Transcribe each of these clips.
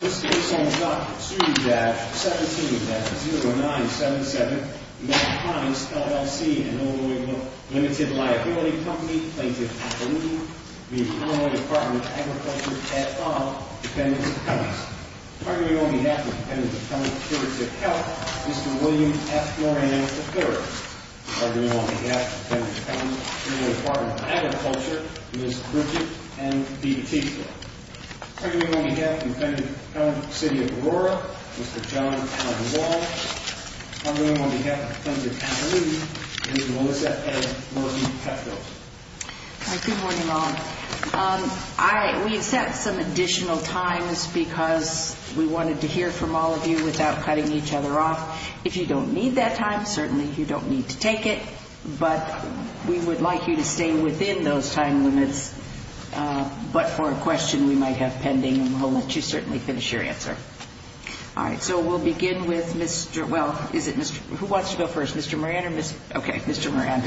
17-009-77, Mass Commons, LLC, and a number of other limited liability companies, thank you for including me. The Illinois Department of Agriculture has five dependent accountants. Partnering on behalf of Dependent Accountants, David Gattel, Mr. William F. Morehead, and Clare. Partnering on behalf of Dependent Accountants, Illinois Department of Agriculture, Ms. Bridget, and David Keechler. Partnering on behalf of Dependent Accountants, City of Aurora, Mr. John Caldwell. Partnering on behalf of Dependent Accountants, Illinois Department of Agriculture, Ms. Melissa A. Martin-Petco. Good morning, all. We accept some additional time because we wanted to hear from all of you without cutting each other off. If you don't need that time, certainly you don't need to take it, but we would like you to stay within those time limits. But for a question we might have pending, we'll let you certainly finish your answer. All right, so we'll begin with Mr. – well, is it Mr. – who wants to go first, Mr. Moran or Ms. – okay, Mr. Moran.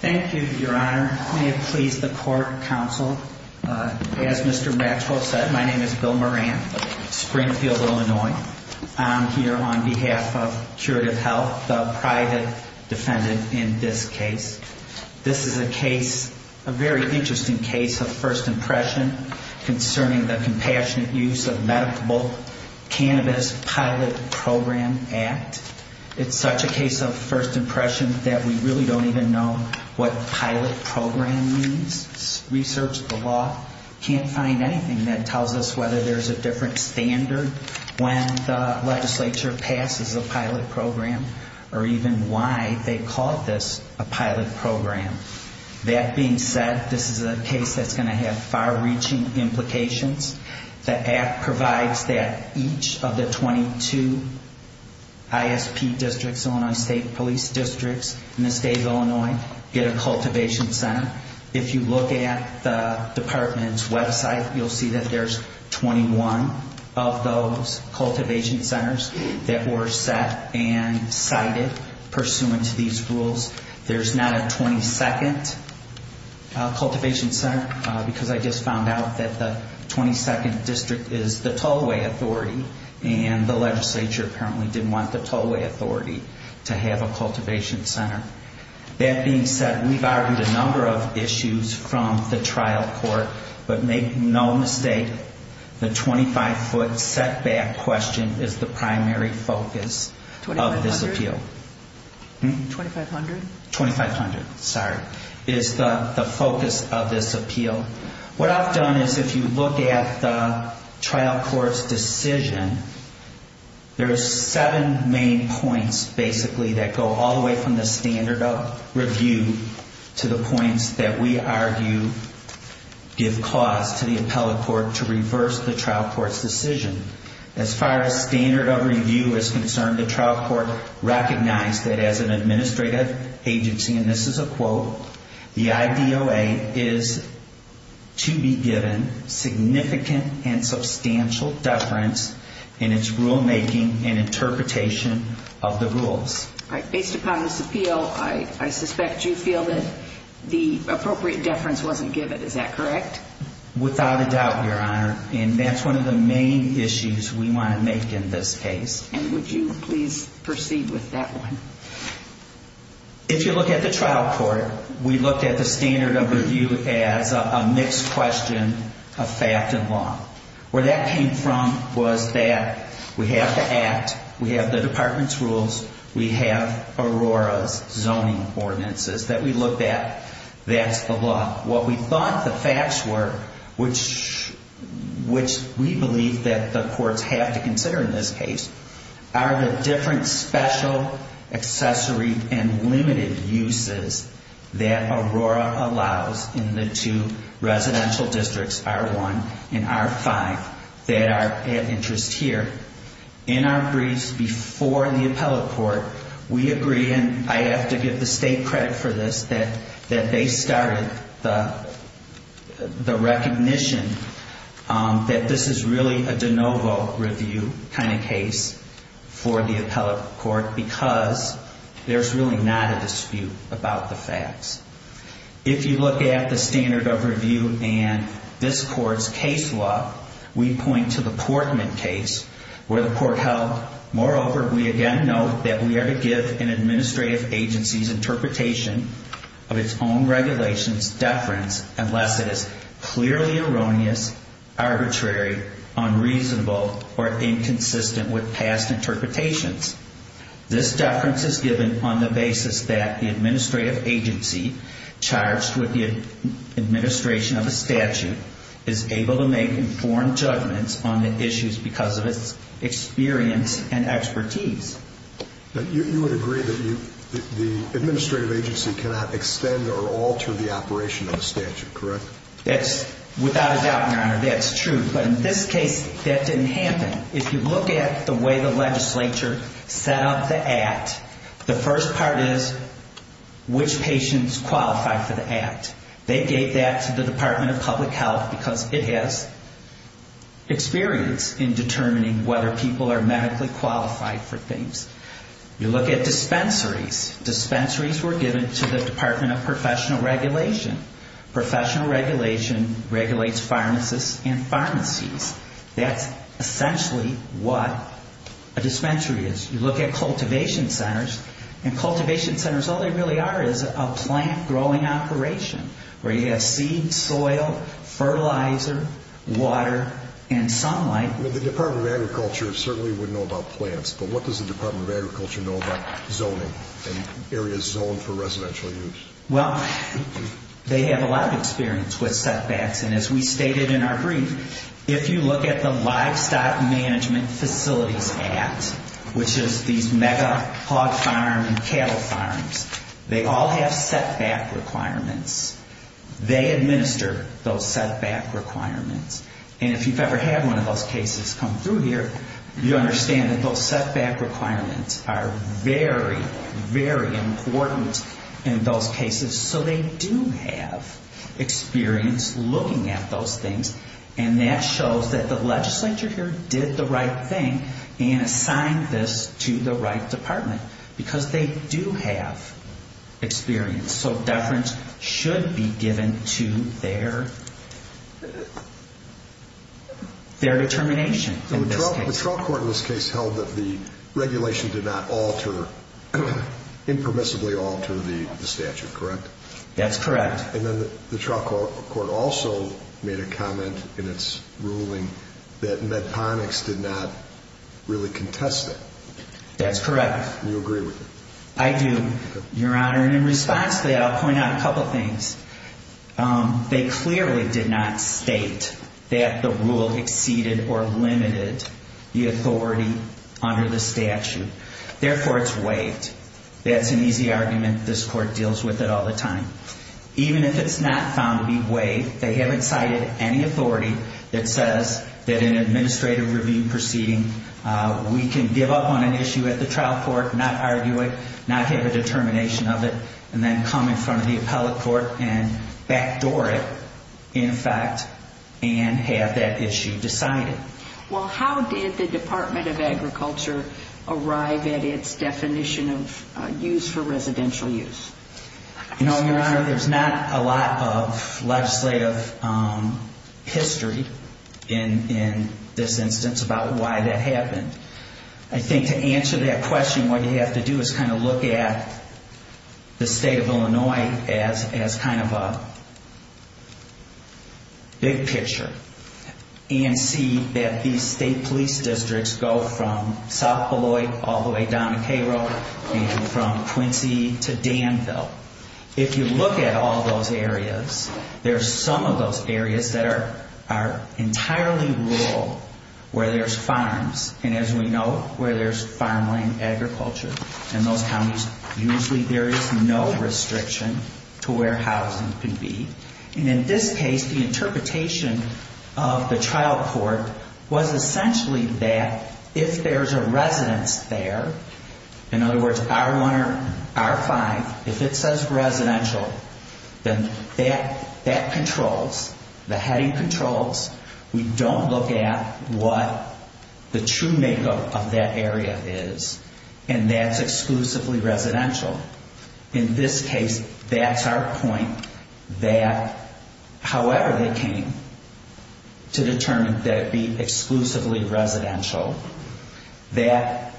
Thank you, Your Honor. May it please the court, counsel. As Mr. Matsko said, my name is Bill Moran, Springfield, Illinois. I'm here on behalf of Curative Health, a private defendant in this case. This is a case – a very interesting case of first impression concerning the compassionate use of medical cannabis pilot program act. It's such a case of first impression that we really don't even know what pilot program means. We searched the law, can't find anything that tells us whether there's a different standard when the legislature passes a pilot program or even why they call this a pilot program. That being said, this is a case that's going to have far-reaching implications. The act provides that each of the 22 ISP districts, Illinois State Police Districts in the state of Illinois, get a cultivation center. If you look at the department's website, you'll see that there's 21 of those cultivation centers that were set and cited pursuant to these rules. There's not a 22nd cultivation center because I just found out that the 22nd district is the tollway authority, and the legislature apparently didn't want the tollway authority to have a cultivation center. That being said, we've argued a number of issues from the trial court, but make no mistake, the 25-foot setback question is the primary focus of this appeal. 2,500? 2,500, sorry. It's the focus of this appeal. What I've done is if you look at the trial court's decision, there are seven main points, basically, that go all the way from the standard of review to the points that we argue give cause to the appellate court to reverse the trial court's decision. As far as standard of review is concerned, the trial court recognized that as an administrative agency, and this is a quote, the IBOA is to be given significant and substantial deference in its rulemaking and interpretation of the rules. Based upon this appeal, I suspect you feel that the appropriate deference wasn't given. Is that correct? Without a doubt, Your Honor, and that's one of the main issues we want to make in this case. And would you please proceed with that one? If you look at the trial court, we look at the standard of review as a mixed question of fact and law. Where that came from was that we have the act, we have the department's rules, we have Aurora's zoning ordinances that we looked at. That's the law. What we thought the facts were, which we believe that the courts have to consider in this case, are the different special, accessory, and limited uses that Aurora allows in the two residential districts, R1 and R5, that are of interest here. In our briefs before the appellate court, we agreed, and I have to give the state credit for this, that they started the recognition that this is really a de novo review kind of case for the appellate court because there's really not a dispute about the facts. If you look at the standard of review in this court's case law, we point to the Portman case where the court held, moreover, we again note that we are to give an administrative agency's interpretation of its own regulations deference unless it is clearly erroneous, arbitrary, unreasonable, or inconsistent with past interpretations. This deference is given on the basis that the administrative agency charged with the administration of a statute is able to make informed judgments on the issues because of its experience and expertise. You would agree that the administrative agency cannot extend or alter the operation of a statute, correct? Without a doubt, that's true. But in this case, that didn't happen. If you look at the way the legislature set up the act, the first part is which patients qualified for the act. They gave that to the Department of Public Health because it has experience in determining whether people are medically qualified for things. You look at dispensaries. Dispensaries were given to the Department of Professional Regulation. Professional Regulation regulates pharmacists and pharmacies. That's essentially what a dispensary is. You look at cultivation centers, and cultivation centers, all they really are is a plant growing operation where you have seed, soil, fertilizer, water, and sunlight. The Department of Agriculture certainly would know about plants, but what does the Department of Agriculture know about zoning and areas zoned for residential use? Well, they have a lot of experience with setbacks, and as we stated in our brief, if you look at the Livestock Management Facility Act, which is these mega hog farms and cattle farms, they all have setback requirements. They administer those setback requirements. And if you've ever had one of those cases come through here, you understand that those setback requirements are very, very important in those cases, so they do have experience looking at those things, and that shows that the legislature here did the right thing and assigned this to the right department because they do have experience, so deference should be given to their determination. The trial court in this case held that the regulation did not alter, impermissibly alter the statute, correct? That's correct. And then the trial court also made a comment in its ruling that Medponics did not really contest it. That's correct. Do you agree with that? I do, Your Honor. In response to that, I'll point out a couple of things. They clearly did not state that the rule exceeded or limited the authority under the statute. Therefore, it's waived. That's an easy argument. This court deals with it all the time. Even if it's not found to be waived, they haven't cited any authority that says that in an administrative review proceeding, we can give up on an issue at the trial court, not argue it, not have a determination of it, and then come in from the appellate court and backdoor it, in fact, and have that issue decided. Well, how did the Department of Agriculture arrive at its definition of use for residential use? No, Your Honor, there's not a lot of legislative history in this instance about why that happened. I think to answer that question, what you have to do is kind of look at the state of Illinois as kind of a big picture and see that these state police districts go from South Beloit all the way down to Cairo and from Quincy to Danville. If you look at all those areas, there's some of those areas that are entirely rural where there's farms. And as we know, where there's farmland agriculture in those counties, usually there is no restriction to where housing can be. And in this case, the interpretation of the trial court was essentially that if there's a residence there, in other words, our find, if it says residential, then that controls, the heading controls. We don't look at what the true makeup of that area is, and that's exclusively residential. In this case, that's our point that however they came to determine that it be exclusively residential, that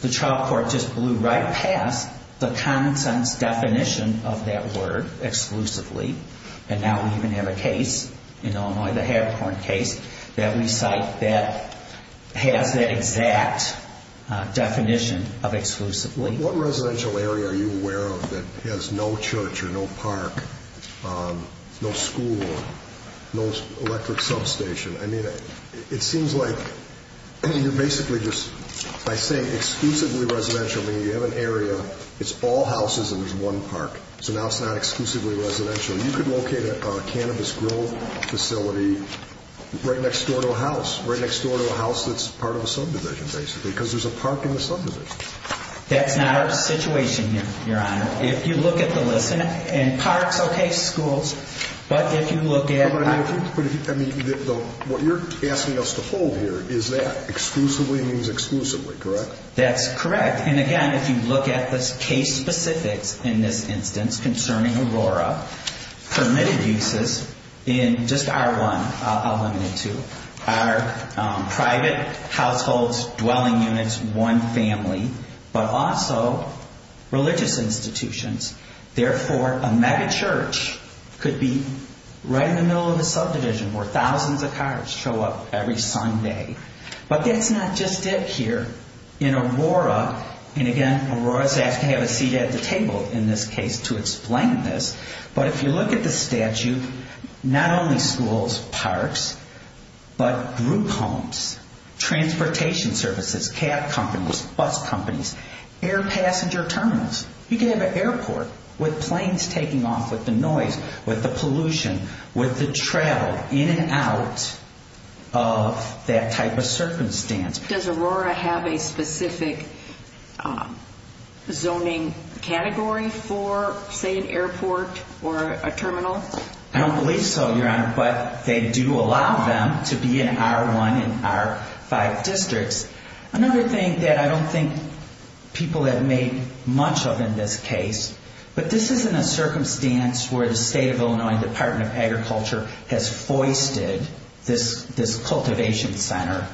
the trial court just blew right past the common sense definition of that word, exclusively. And now we're going to have a case, an Illinois that had a foreign case, that we cite that has that exact definition of exclusively. What residential area are you aware of that has no church or no park, no school, no electric substation? I mean, it seems like you're basically just, I think, exclusively residential when you have an area, it's all houses and there's one park. So now it's not exclusively residential. You could locate a cannabis grill facility right next door to a house, right next door to a house that's part of a subdivision, basically, because there's a park in the subdivision. That's not our situation, Your Honor. If you look at the list, and parks, okay, schools, but if you look at- I mean, what you're asking us to hold here is that exclusively means exclusively, correct? That's correct. And, again, if you look at the case specifics in this instance concerning Aurora, permitted uses in just R1, I'll limit it to, are private households, dwelling units, one family, but also religious institutions. Therefore, a megachurch could be right in the middle of the subdivision where thousands of cars show up every Sunday. But that's not just it here. In Aurora, and, again, Aurora's asking to have a seat at the table in this case to explain this, but if you look at the statute, not only schools, parks, but group homes, transportation services, cab companies, bus companies, air passenger terminals. You could have an airport with planes taking off, with the noise, with the pollution, with the travel in and out of that type of circumstance. Does Aurora have a specific zoning category for, say, an airport or a terminal? I don't believe so, Your Honor, but they do allow them to be in R1 and R5 districts. Another thing that I don't think people have made much of in this case, but this isn't a circumstance where the State of Illinois Department of Agriculture has foisted this cultivation center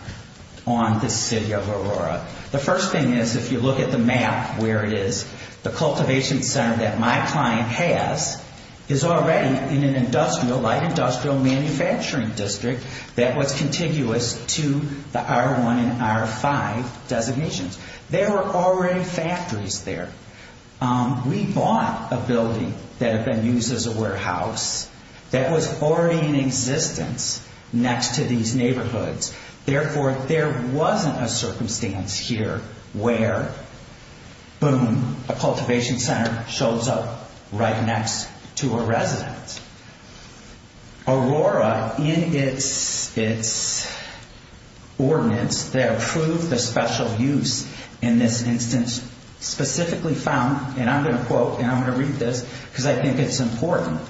on the city of Aurora. The first thing is if you look at the map where it is, the cultivation center that my client has is already in an industrial, light industrial manufacturing district that was continuous to the R1 and R5 designations. There were already factories there. We bought a building that had been used as a warehouse that was already in existence next to these neighborhoods. Therefore, there wasn't a circumstance here where, boom, a cultivation center shows up right next to a residence. Aurora, in its ordinance, they approve the special use in this instance specifically found, and I'm going to quote, and I'm going to read this because I think it's important.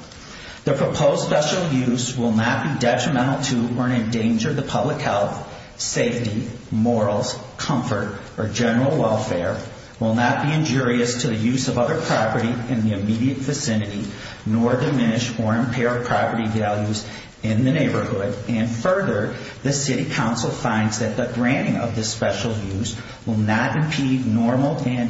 The proposed special use will not be detrimental to or endanger the public health, safety, morals, comfort, or general welfare, will not be injurious to the use of other property in the immediate vicinity, nor diminish or impair property values in the neighborhood, and further, the city council finds that the granting of this special use will not impede normal and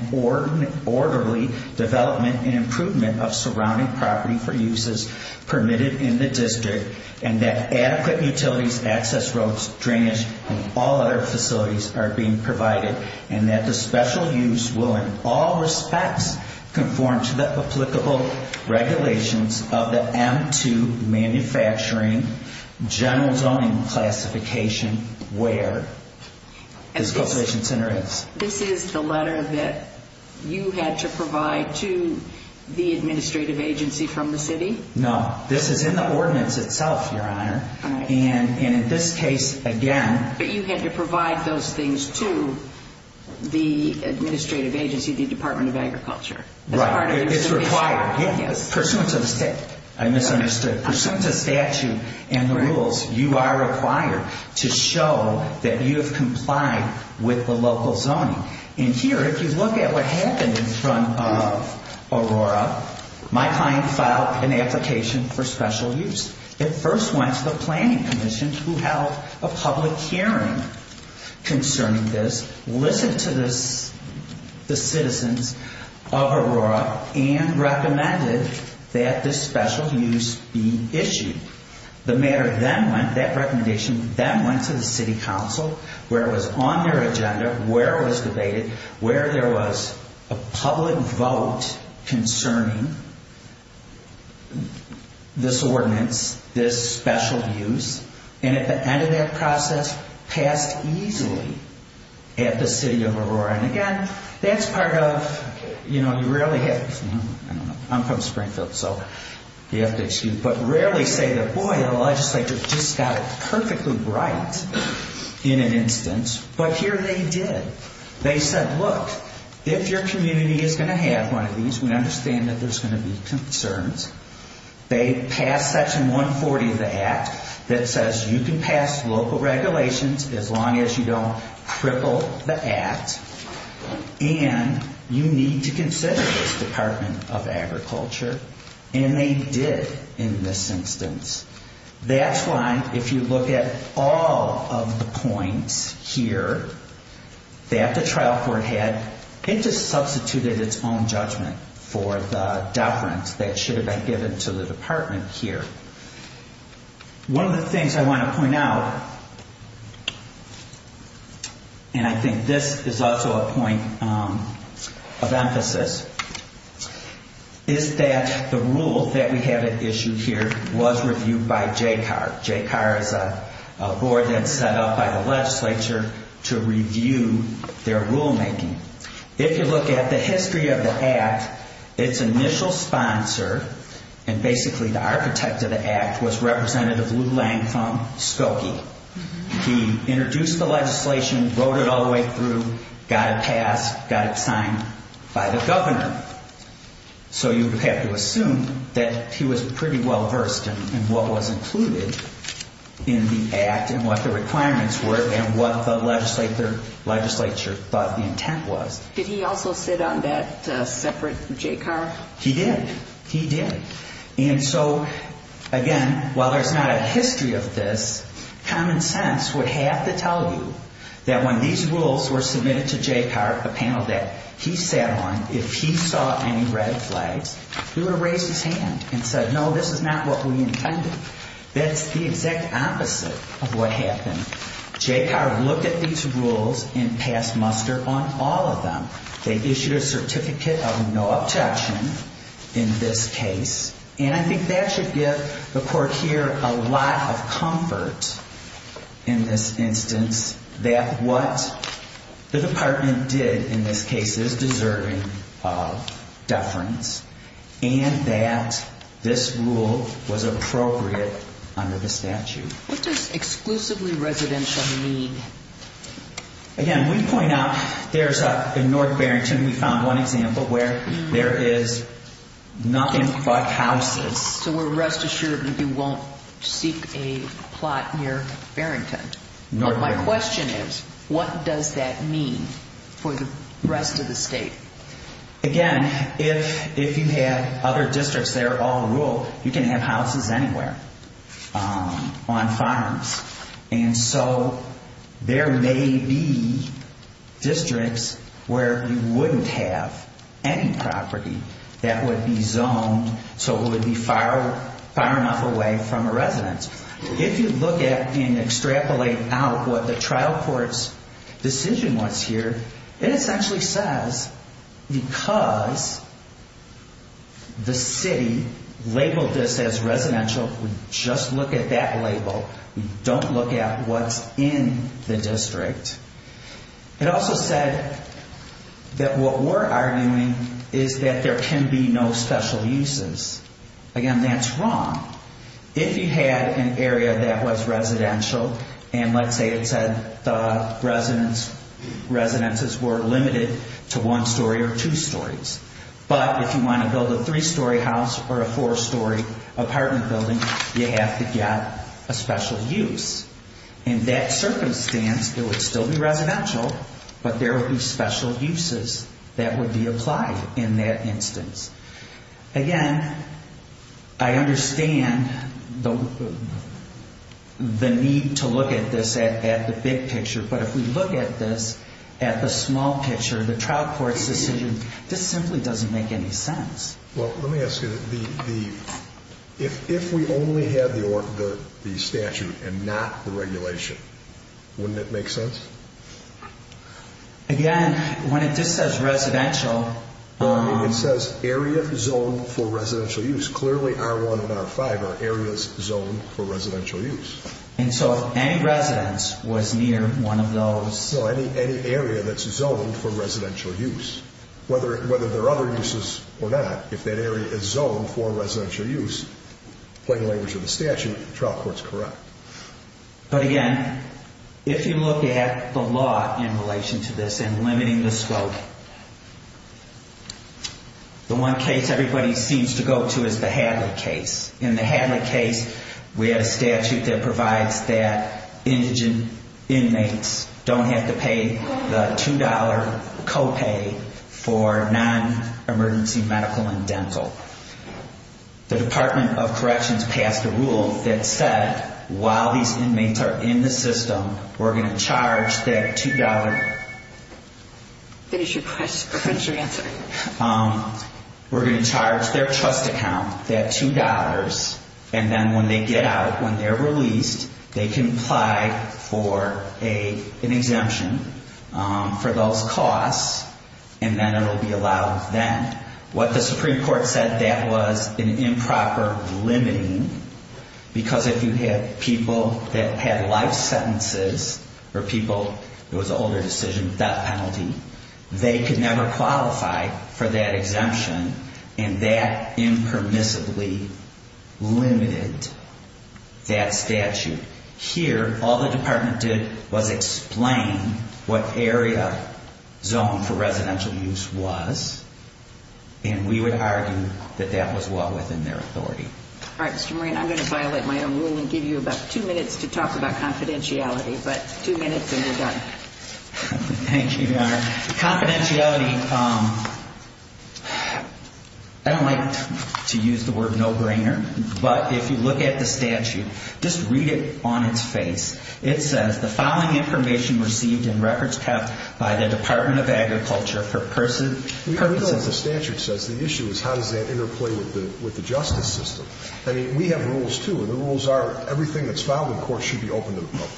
orderly development and improvement of surrounding property for uses permitted in the district, and that adequate utilities, access roads, drainage, and all other facilities are being provided, and that the special use will in all respects conform to the applicable regulations of the M2 manufacturing general zoning classification where this cultivation center is. This is the letter that you had to provide to the administrative agency from the city? No, this is in the ordinance itself, Your Honor, and in this case, again. But you had to provide those things to the administrative agency, the Department of Agriculture? Right, it's required. I misunderstood. As soon as the statute and the rules, you are required to show that you have complied with the local zoning. And here, if you look at what happened in front of Aurora, my client filed an application for special use. It first went to the planning commission who held a public hearing concerning this, listened to the citizens of Aurora, and recommended that this special use be issued. The mayor then went, that recommendation then went to the city council where it was on their agenda, where it was debated, where there was a public vote concerning this ordinance, this special use, and at the end of that process, passed easily at the city of Aurora. And again, that's part of, you know, you rarely have, I'm from Springfield, so you have to excuse me, but you rarely say that, boy, our legislature just got perfectly bright in an instance. But here they did. They said, look, if your community is going to have one of these, we understand that there's going to be concerns. They passed Section 140 of the Act that says you can pass local regulations as long as you don't trickle the act, and you need to consider the Department of Agriculture, and they did in this instance. That's why, if you look at all of the points here that the trial court had, it just substituted its own judgment for the deference that should have been given to the department here. One of the things I want to point out, and I think this is also a point of emphasis, is that the rule that we have issued here was reviewed by JCAR. JCAR is a board that's set up by the legislature to review their rulemaking. If you look at the history of the Act, its initial sponsor, and basically the architect of the Act, was Representative Lulang Fong Skokie. He introduced the legislation, wrote it all the way through, got it passed, got it signed by the government. So you would have to assume that he was pretty well versed in what was included in the Act and what the requirements were and what the legislature thought the intent was. Did he also sit on that separate JCAR? He did. He did. And so, again, while there's not a history of this, common sense would have to tell you that when these rules were submitted to JCAR, the panel that he sat on, if he saw any red flags, he would have raised his hand and said, no, this is not what we intended. That's the exact opposite of what happened. JCAR looked at these rules and passed muster on all of them. They issued a certificate of no objection in this case, and I think that should give the court here a lot of comfort in this instance that what the department did in this case is deserving of deference and that this rule was appropriate under the statute. What does exclusively residential mean? Again, we point out, in North Barrington, we found one example where there is nothing but houses. So we're rest assured that you won't seek a plot near Barrington. My question is, what does that mean for the rest of the state? Again, if you have other districts that are all rural, you can have houses anywhere on farms, and so there may be districts where you wouldn't have any property that would be zoned so it would be far enough away from a residence. If you look at and extrapolate out what the trial court's decision was here, it essentially says because the state labeled this as residential, just look at that label, don't look at what's in the district. It also said that what we're arguing is that there can be no special uses. Again, that's wrong. If you had an area that was residential, and let's say it said the residences were limited to one story or two stories, but if you want to build a three-story house or a four-story apartment building, you have to get a special use. In that circumstance, it would still be residential, but there would be special uses that would be applied in that instance. Again, I understand the need to look at this at the big picture, but if we look at this at the small picture, the trial court decision, this simply doesn't make any sense. Well, let me ask you, if we only had the statute and not the regulation, wouldn't that make sense? Again, when it just says residential... It says area zoned for residential use, clearly R1 and R5 are areas zoned for residential use. And so if any residence was near one of those... No, any area that's zoned for residential use, whether there are other uses or not, if that area is zoned for residential use, playing the language of the statute, the trial court's correct. But again, if you look at the law in relation to this and limiting the scope, the one case everybody seems to go to is the Hadley case. In the Hadley case, we had a statute that provides that indigent inmates don't have to pay the $2 co-pay for non-emergency medical and dental. The Department of Corrections passed a rule that said while these inmates are in the system, we're going to charge their $2... Finish your question. Finish your answer. We're going to charge their trust account that $2, and then when they get out, when they're released, they can apply for an exemption for those costs, and then it will be allowed then. What the Supreme Court said that was an improper limiting, because if you had people that had life sentences or people... It was an older decision, death penalty. They could never qualify for that exemption, and that impermissibly limited that statute. Here, all the Department did was explain what area zone for residential use was, and we would argue that that was what was in their authority. All right, Mr. Murray, I'm going to file that item. We'll only give you about two minutes to talk about confidentiality, but two minutes and you're done. Thank you, Your Honor. Confidentiality... I don't like to use the word no-brainer, but if you look at the statute, just read it on its face. It says, The following information received and records kept by the Department of Agriculture for persons... We already know what the statute says. The issue is how does that interplay with the justice system. We have rules, too, and the rules are everything that's filed in court should be open to the public.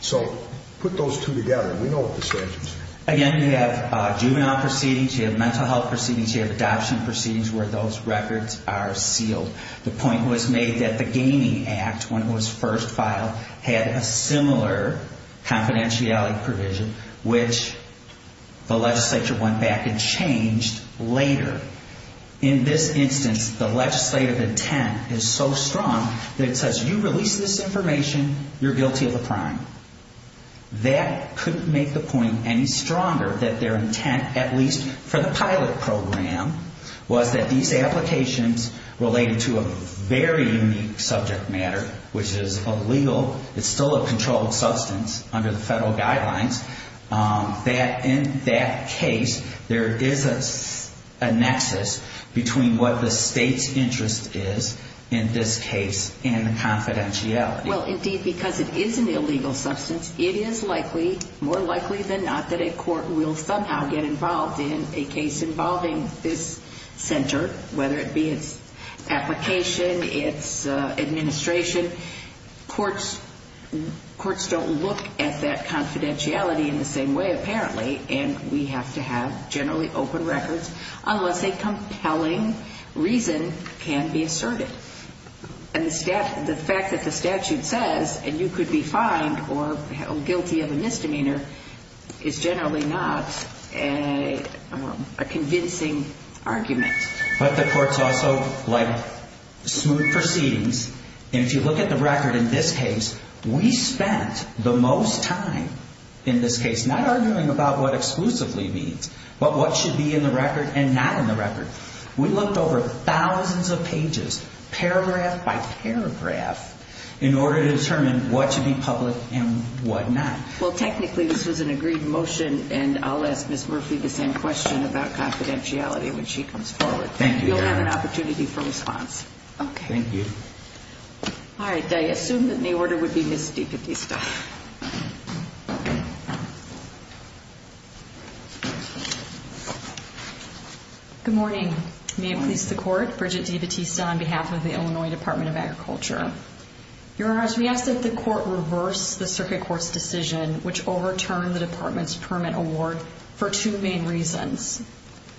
So put those two together. We know what the statute says. Again, you have juvenile proceedings, you have mental health proceedings, you have adoption proceedings where those records are sealed. The point was made that the Gaining Act, when it was first filed, had a similar confidentiality provision, which the legislature went back and changed later. In this instance, the legislative intent is so strong that it says, You release this information, you're guilty of a crime. That couldn't make the point any stronger that their intent, at least for the pilot program, was that these applications related to a very unique subject matter, which is illegal, it's still a controlled substance under the federal guidelines, that in that case there is a nexus between what the state's interest is in this case and the confidentiality. Well, indeed, because it is an illegal substance, it is likely, more likely than not, that a court will somehow get involved in a case involving this center, whether it be its application, its administration. Courts don't look at that confidentiality in the same way, apparently, and we have to have generally open records unless a compelling reason can be asserted. And the fact that the statute says, and you could be fined or guilty of a misdemeanor, is generally not a convincing argument. But the courts also like smooth proceedings, and if you look at the record in this case, we spent the most time in this case not arguing about what exclusively means, but what should be in the record and not in the record. We looked over thousands of pages, paragraph by paragraph, in order to determine what should be public and what not. Well, technically, this is an agreed motion, and I'll ask Ms. Murphy the same question about confidentiality when she comes forward. Thank you. You'll have an opportunity for response. Thank you. All right, I assume that the order would be Ms. DeCastro. Good morning. Good morning to the Court. Bridget E. Batista on behalf of the Illinois Department of Agriculture. Your Honors, we ask that the Court reverse the Circuit Court's decision, which overturned the Department's permit award, for two main reasons.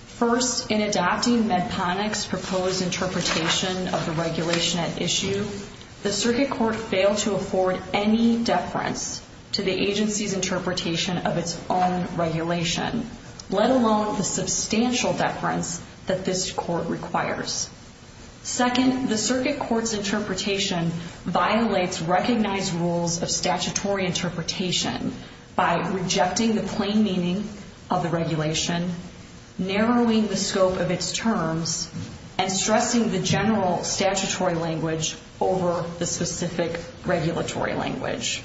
First, in adopting Medtronic's proposed interpretation of the regulation at issue, the Circuit Court failed to afford any definition of confidentiality. Second, the Circuit Court's interpretation violates recognized rules of statutory interpretation by rejecting the plain meaning of the regulation, narrowing the scope of its terms, and stressing the general statutory language over the specific regulatory language.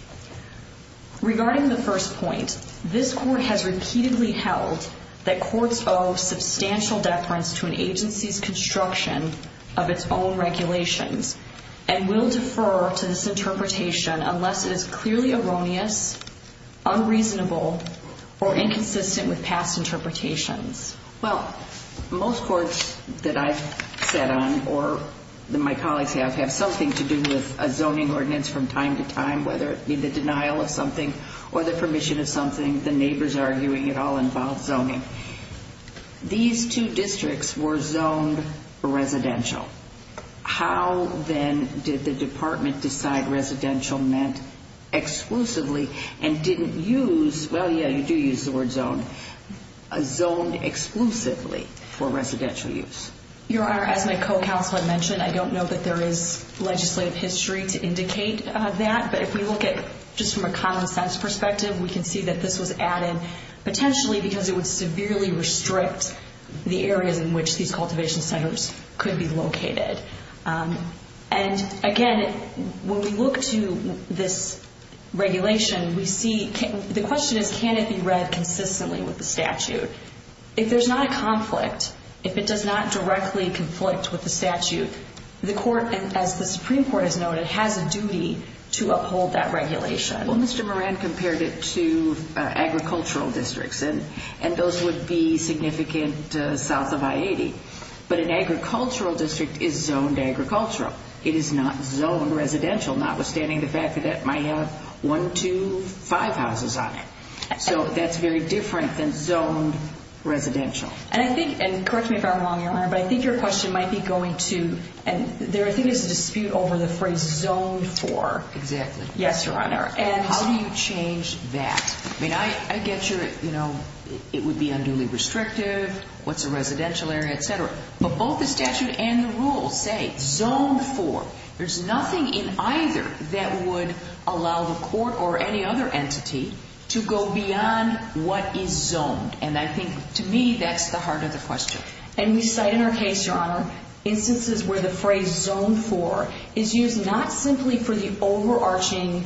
Regarding the first point, this Court has repeatedly held that courts owe substantial deference to an agency's construction of its own regulations and will defer to this interpretation unless it is clearly erroneous, unreasonable, or inconsistent with past interpretations. Well, most courts that I've sat on, or my colleagues have, have something to do with a zoning ordinance from time to time, whether it be the denial of something or the permission of something, the neighbors arguing it all involves zoning. These two districts were zoned residential. How, then, did the Department decide residential meant exclusively and didn't use, well, yeah, you do use the word zone, a zone exclusively for residential use? Your Honor, as my co-counselor mentioned, I don't know that there is legislative history to indicate that, but if we look at just from a common sense perspective, we can see that this was added potentially because it would severely restrict the area in which these cultivation centers could be located. And, again, when we look to this regulation, we see the question is can it be read consistently with the statute? If there's not a conflict, if it does not directly conflict with the statute, the court, as the Supreme Court has noted, has a duty to uphold that regulation. Well, Mr. Moran compared it to agricultural districts, and those would be significant south of I-80. But an agricultural district is zoned agricultural. It is not zoned residential, notwithstanding the fact that that might have one, two, five houses on it. So that's very different than zoned residential. And I think, and correct me if I'm wrong, Your Honor, but I think your question might be going to, and I think there's a dispute over the phrase zoned for. Exactly. Yes, Your Honor. And how do you change that? I mean, I get your, you know, it would be unduly restrictive, what's a residential area, et cetera. But both the statute and the rules say zoned for. There's nothing in either that would allow the court or any other entity to go beyond what is zoned. And I think, to me, that's the heart of the question. And we cite in our case, Your Honor, instances where the phrase zoned for is used not simply for the overarching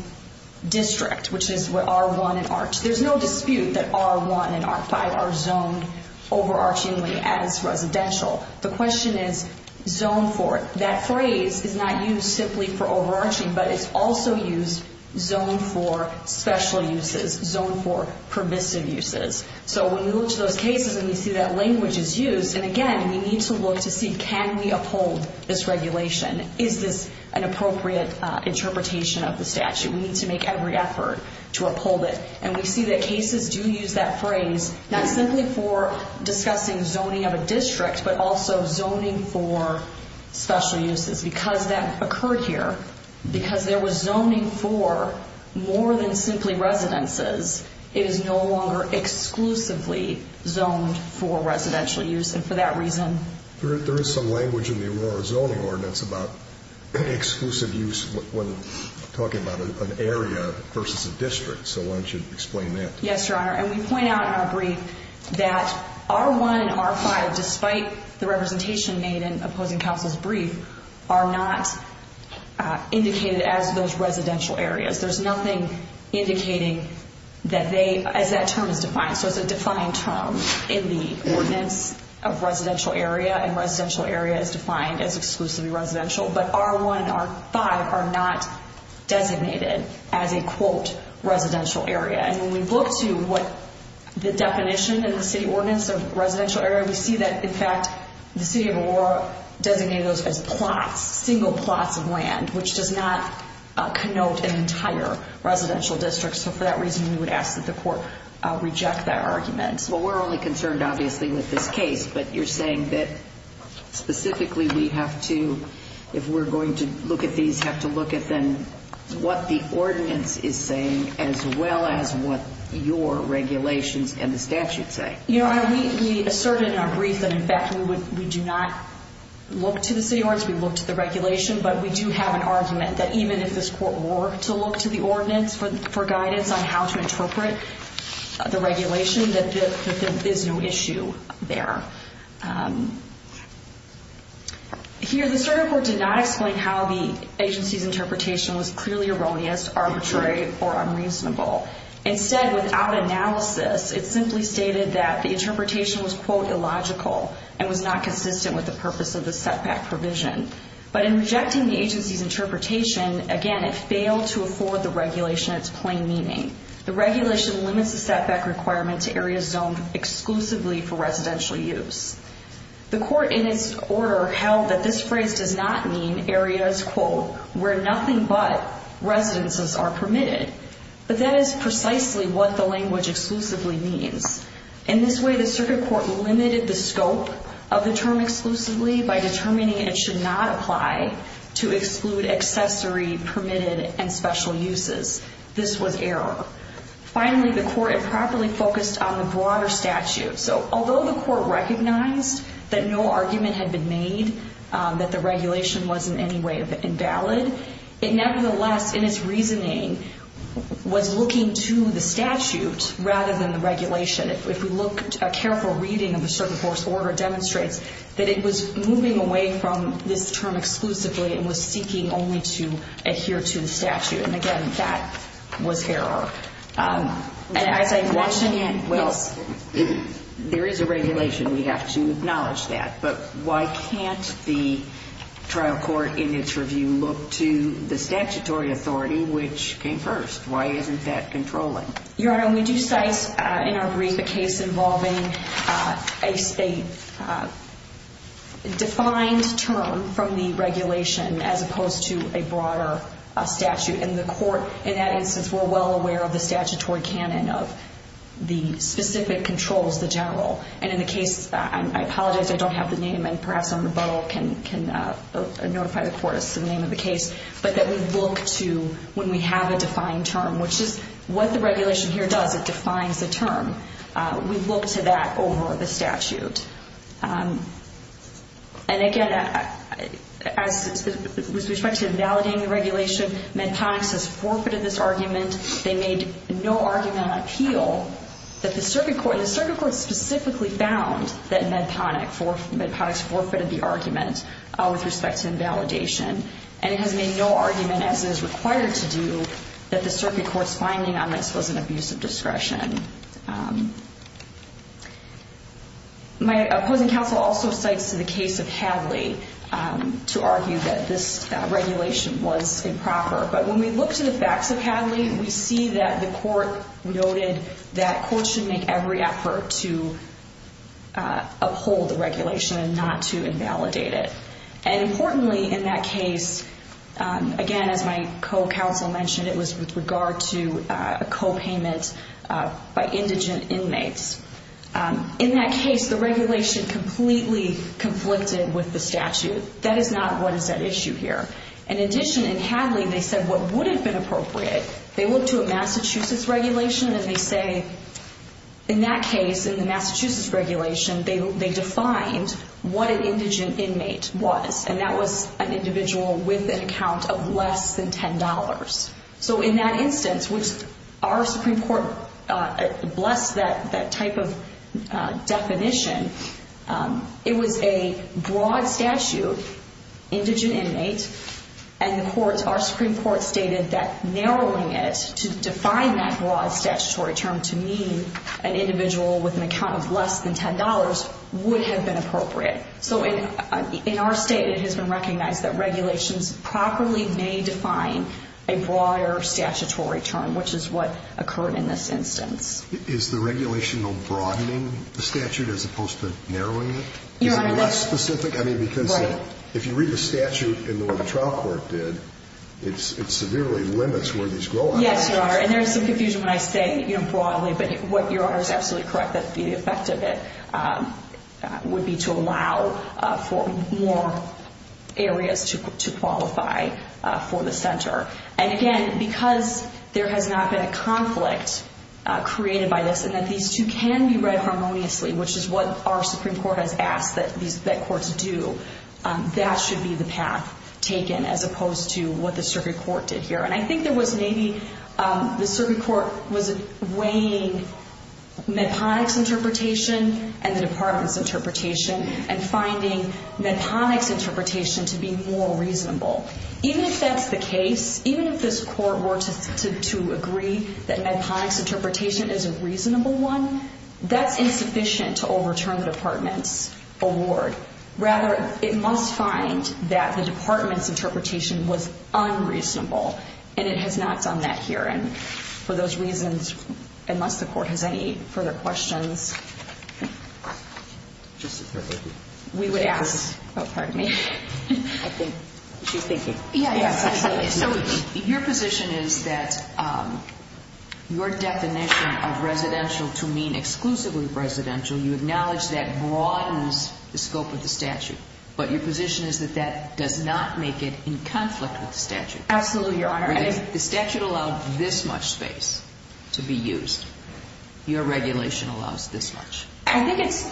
district, which is where R1 and R2, there's no dispute that R1 and R5 are zoned overarchingly as residential. The question is zoned for. That phrase is not used simply for overarching, but it's also used zoned for special uses, zoned for permissive uses. So when we look at those cases and we see that language is used, and, again, we need to look to see can we uphold this regulation. Is this an appropriate interpretation of the statute? We need to make every effort to uphold it. And we see that cases do use that phrase not simply for discussing zoning of residential uses. Because that occurred here, because there was zoning for more than simply residences, it is no longer exclusively zoned for residential use, and for that reason. There is some language in the Aurora Zoning Ordinance about exclusive use when talking about an area versus a district. So why don't you explain that? Yes, Your Honor. And we point out in our brief that R1 and R5, despite the representation made in a public counsel's brief, are not indicated as those residential areas. There's nothing indicating that they, as that term is defined. So the defining terms in the ordinance of residential area and residential area is defined as exclusively residential. But R1 and R5 are not designated as a, quote, residential area. And when we look to what the definition in the city ordinance of residential area, we see that, in fact, the city of Aurora designated those as plots, single plots of land, which does not connote an entire residential district. So for that reason, we would ask that the court reject that argument. Well, we're only concerned, obviously, with this case. But you're saying that specifically we have to, if we're going to look at these, have to look at then what the ordinance is saying, as well as what your regulations and the statute say. You know, we asserted in our brief that we do not look to the city ordinance, we look to the regulation, but we do have an argument that even if this court were to look to the ordinance for guidance on how to interpret the regulation, that this is no issue there. Here, the certified did not explain how the agency's interpretation was clearly erroneous, arbitrary, or unreasonable. Instead, without analysis, it simply stated that the interpretation was, quote, illogical and was not consistent with the purpose of the setback provision. But in rejecting the agency's interpretation, again, it failed to afford the regulation its plain meaning. The regulation limits the setback requirement to areas zoned exclusively for residential use. The court, in its order, held that this phrase did not mean areas, quote, where nothing but residences are permitted. But that is precisely what the language exclusively means. In this way, the circuit court limited the scope of the term exclusively by determining it should not apply to exclude accessory permitted and special uses. This was error. Finally, the court improperly focused on the broader statute. So although the court recognized that no argument had been made that the regulation was in any way invalid, it nevertheless, in its reasoning, was looking to the statute rather than the regulation. If we look at a careful reading of the circuit court's order, it demonstrates that it was moving away from this term exclusively and was speaking only to adhere to the statute. And, again, that was error. And I think once again, well, there is a regulation. We have to acknowledge that. But why can't the trial court, in its review, look to the statutory authority, which came first? Why isn't that controlling? Your Honor, we do cite in our brief a case involving a defined term from the regulation as opposed to a broader statute. And the court, in that instance, were well aware of the statutory canon of the specific control of the general. And in the case, I apologize, I don't have the name, and perhaps on the bottle can notify the court of the name of the case, but that we look to when we have a defined term, which is what the regulation here does, it defines the term. We look to that over the statute. And, again, with respect to invalidating the regulation, Medtom has forfeited this argument. They made no argument on appeal. The circuit court specifically found that Medtom has forfeited the argument with respect to invalidation. And it has made no argument, as is required to do, that the circuit court's finding on this was an abuse of discretion. My opponent also cites the case of Hadley to argue that this regulation was improper. But when we look to the facts of Hadley, we see that the court noted that courts should make every effort to uphold the regulation and not to invalidate it. And, importantly, in that case, again, as my co-counsel mentioned, it was with regard to a copayment by indigent inmates. In that case, the regulation completely conflicted with the statute. That is not what is at issue here. In addition, in Hadley, they said what would have been appropriate, they went to a Massachusetts regulation and they say, in that case, in the Massachusetts regulation, they defined what an indigent inmate was. And that was an individual with an account of less than $10. So in that instance, our Supreme Court blessed that type of definition. It was a broad statute, indigent inmates, and, of course, our Supreme Court stated that narrowing it to define that broad statutory term to mean an individual with an account of less than $10 would have been appropriate. So in our state, it has been recognized that regulations properly may define a broader statutory term, which is what occurred in this instance. Is the regulation on broadening the statute as opposed to narrowing it? Your Honor, that's right. I mean, because if you read the statute in what the trial court did, it severely limits where these go. Yes, Your Honor, and there is some confusion when I say, you know, broadly, but what Your Honor is absolutely correct that the effect of it would be to allow for more areas to qualify for the center. And again, because there has not been a conflict created by this and that these two can be read harmoniously, which is what our Supreme Court has asked that courts do, that should be the path taken as opposed to what the circuit court did here. And I think there was maybe the circuit court was weighing Medtronic's interpretation and the Department's interpretation and finding Medtronic's interpretation to be more reasonable. Even if that's the case, even if this court were to agree that Medtronic's interpretation is a reasonable one, that's insufficient to overturn the Department's award. Rather, it must find that the Department's interpretation was unreasonable and it has not done that here, and for those reasons, unless the court has any further questions, we would ask. Oh, pardon me. Your position is that your definition of residential to mean exclusively residential, you acknowledge that broadens the scope of the statute, but your position is that that does not make it in conflict with the statute. Absolutely, Your Honor. If the statute allows this much space to be used, your regulation allows this much. I think it's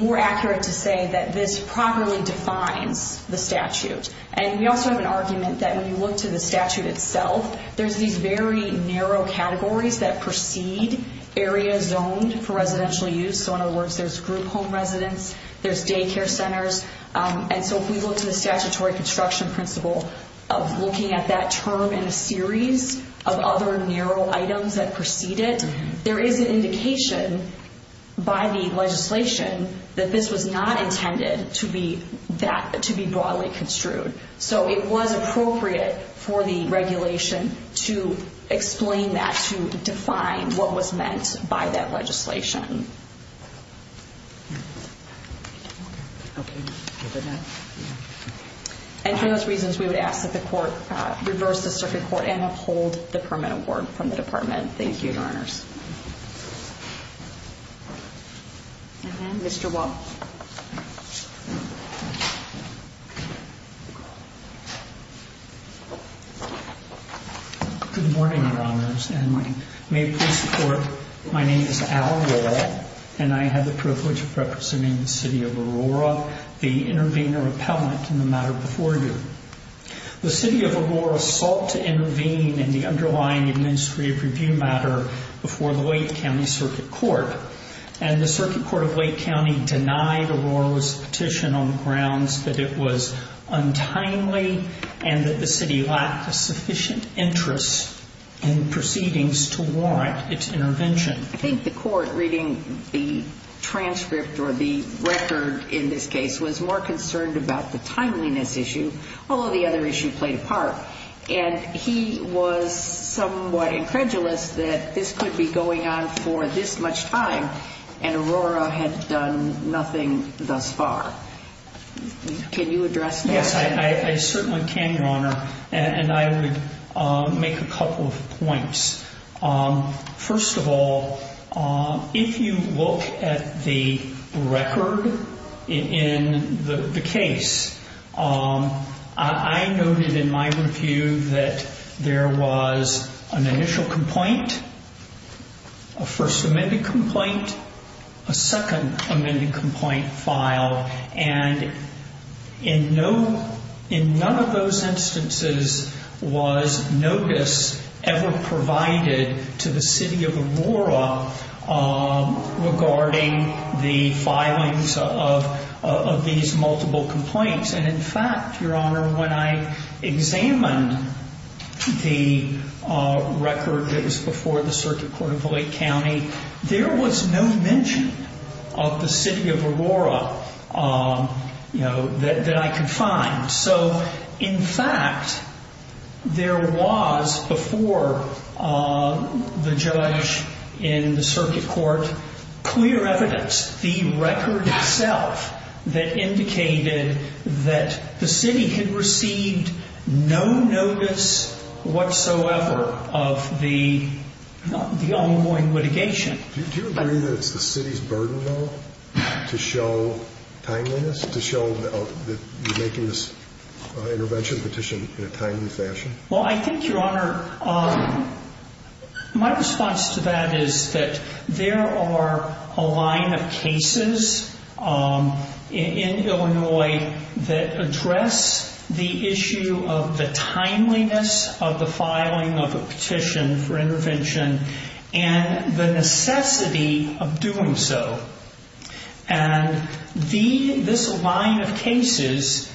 more accurate to say that this properly defines the statute, and we also have an argument that when you look to the statute itself, there's these very narrow categories that precede areas zoned for residential use. So in other words, there's group home residence, there's daycare centers, and so if we look at the statutory construction principle, looking at that term in a series of other narrow items that precede it, there is an indication by the legislation that this was not intended to be broadly construed. So it was appropriate for the regulation to explain that, to define what was meant by that legislation. And for those reasons, we would ask that the Court Mr. Walsh. Good morning, Your Honors, and may it please the Court, my name is Al Walsh, and I have the privilege of representing the City of Aurora, the intervener appellant in the matter before you. The City of Aurora sought to intervene in the underlying administrative review matter before the Wake County Circuit Court, and the Circuit Court of Wake County denied Aurora's petition on the grounds that it was untimely, and that the City lacked sufficient interest in proceedings to warrant its intervention. I think the Court, reading the transcript or the record in this case, was more concerned about the timeliness issue, although the other issues played a part. And he was somewhat incredulous that this could be going on for this much time, and Aurora had done nothing thus far. Can you address that? Yes, I certainly can, Your Honor. And I would make a couple of points. First of all, if you look at the record in the case, I noted in my review that there was an initial complaint, a first amended complaint, a second amended complaint filed, and in none of those instances was notice ever provided to the City of Aurora regarding the filings of these multiple complaints. And in fact, Your Honor, when I examined the record that was before the Circuit Court of Wake County, there was no mention of the City of Aurora that I could find. So, in fact, there was, before the judge in the Circuit Court, clear evidence, the record itself, that indicated that the City had received no notice whatsoever of the ongoing litigation. Did you agree that it's the City's burden, though, to show timeliness, to show the ridiculous intervention petition in a timely fashion? Well, I think, Your Honor, my response to that is that there are a line of cases in Illinois that address the issue of the timeliness of the filing of a petition for intervention and the necessity of doing so. And this line of cases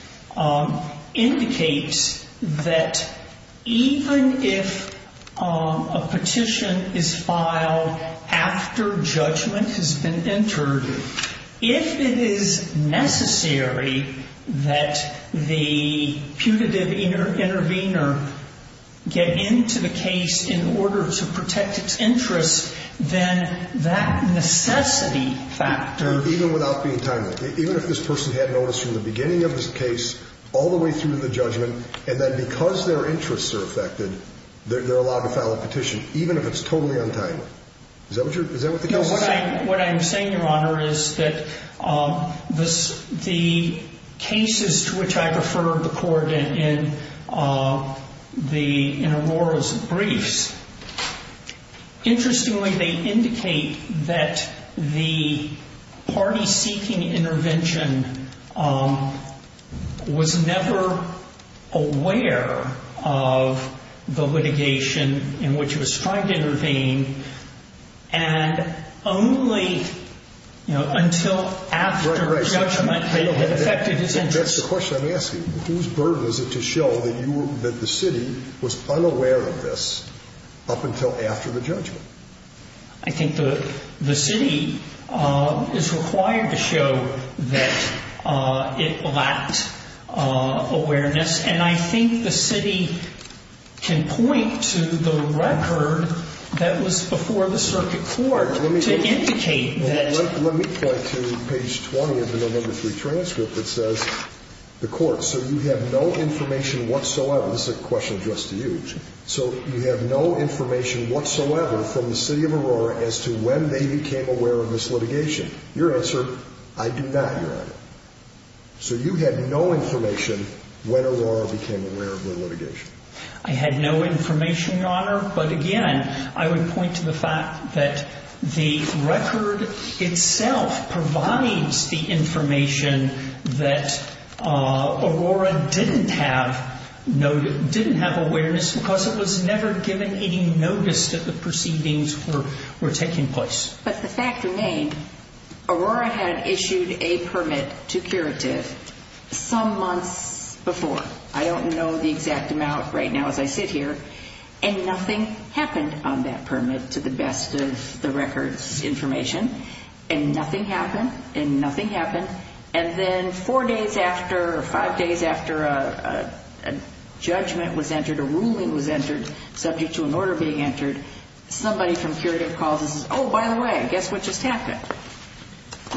indicates that even if a petition is filed after judgment has been entered, if it is necessary that the putative intervener get into the case in order to protect its interests, then that necessity factor... Even without the entitlement. Even if this person had noticed from the beginning of this case all the way through to the judgment and then because their interests are affected, they're allowed to file a petition, even if it's totally untimely. Is that what you're... No, what I'm saying, Your Honor, is that the cases to which I referred the court in Aurora's briefs, interestingly, they indicate that the party-seeking intervention was never aware of the litigation in which it was tried to intervene, and only until after judgment they had affected its interests. That's the question I'm asking. Whose burden is it to show that the city was unaware of this up until after the judgment? I think the city is required to show that it lacked awareness, and I think the city can point to the record that was before the circuit court to indicate that... Let me go to page 20 of the amendment to the transcript that says, the court, so you have no information whatsoever... This is a question just to you. So you have no information whatsoever from the city of Aurora as to when they became aware of this litigation. Your answer, I do not, Your Honor. So you had no information when Aurora became aware of the litigation. I had no information, Your Honor, but again, I would point to the fact that the record itself provides the information that Aurora didn't have awareness because it was never given any notice that the proceedings were taking place. But the fact remains, Aurora had issued a permit to curative some months before. I don't know the exact amount right now as I sit here, and nothing happened on that permit to the best of the record's information, and nothing happened, and nothing happened, and then four days after or five days after a judgment was entered, a ruling was entered subject to an order being entered, somebody from curative policies says, oh, by the way, guess what just happened?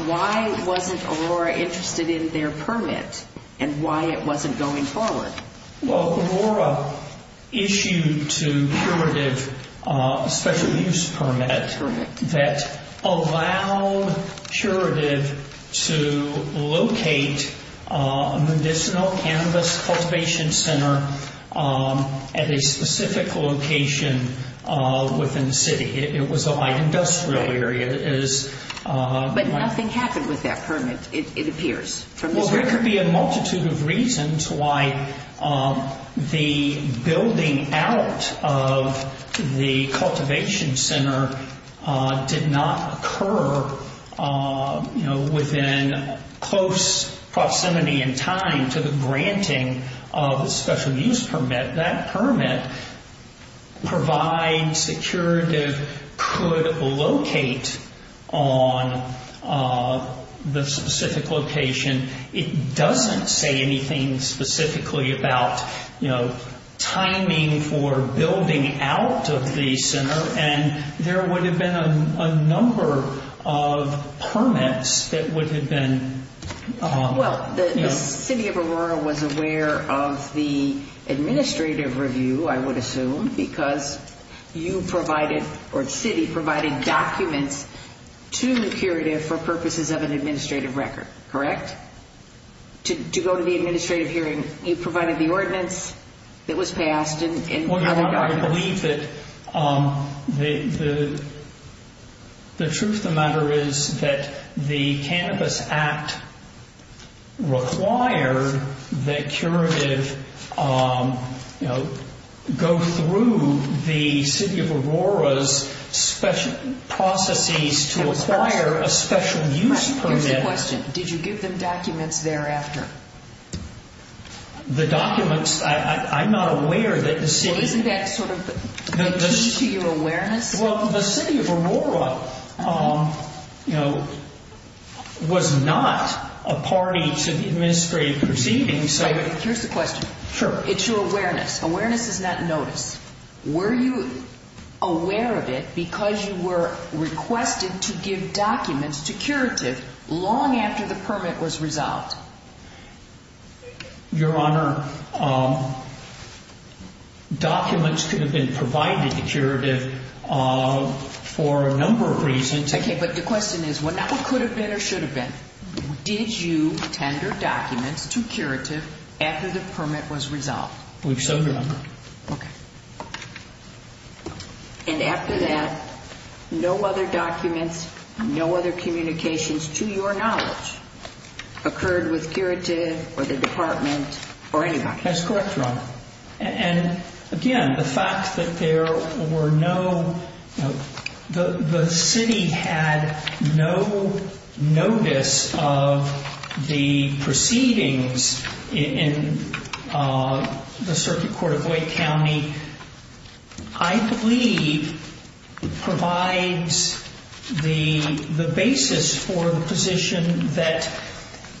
Why wasn't Aurora interested in their permit and why it wasn't going forward? Well, Aurora issued to curative a special use permit that allowed curative to locate a medicinal cannabis cultivation center at a specific location within the city. It was a high industrial area. But nothing happened with that permit, it appears. Well, there could be a multitude of reasons why the building out of the cultivation center did not occur within close proximity in time to the granting of the special use permit. That permit provides curative could locate on the specific location. It doesn't say anything specifically about, you know, timing for building out of the center, and there would have been a number of permits that would have been, you know. Cindy of Aurora was aware of the administrative review, I would assume, because you provided, or the city provided documents to the curative for purposes of an administrative record, correct? To go to the administrative hearing, you provided the ordinance, it was passed. I believe that the truth of the matter is that the Cannabis Act required that curative, you know, go through the city of Aurora's processes to acquire a special use permit. Did you give them documents thereafter? The documents, I'm not aware that the city... Isn't that sort of the key to your awareness? Well, the city of Aurora, you know, was not a party to the administrative proceedings. Here's the question. Sure. It's your awareness. Awareness is not notice. Were you aware of it because you were requested to give documents to curative long after the permit was resolved? Your Honor, documents could have been provided to curative for a number of reasons. Okay, but the question is, whenever it could have been or should have been, did you tender documents to curative after the permit was resolved? We've so far not. Okay. And after that, no other documents, no other communications to your knowledge occurred with curative or the department or anybody? That's correct, Your Honor. And, again, the fact that there were no... The city had no notice of the proceedings in the circuit court of Boyd County, I believe, provides the basis for the position that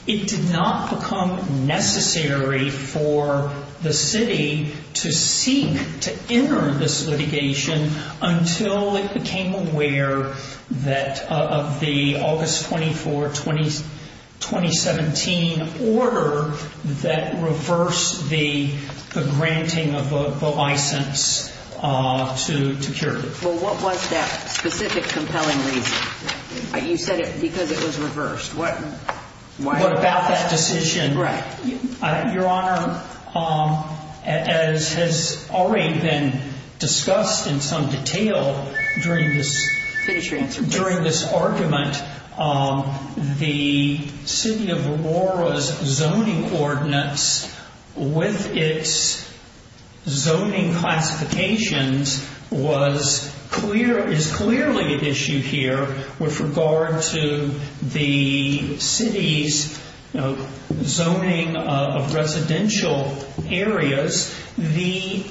it did not become necessary for the city to seek to enter this litigation until it became aware of the August 24, 2017, order that reversed the granting of the license to curative. Well, what was that specific compelling reason? You said because it was reversed. What about that decision? Right. Your Honor, as has already been discussed in some detail during this argument, the city of Aurora's zoning ordinance with its zoning classifications is clearly an issue here with regard to the city's zoning of residential areas. The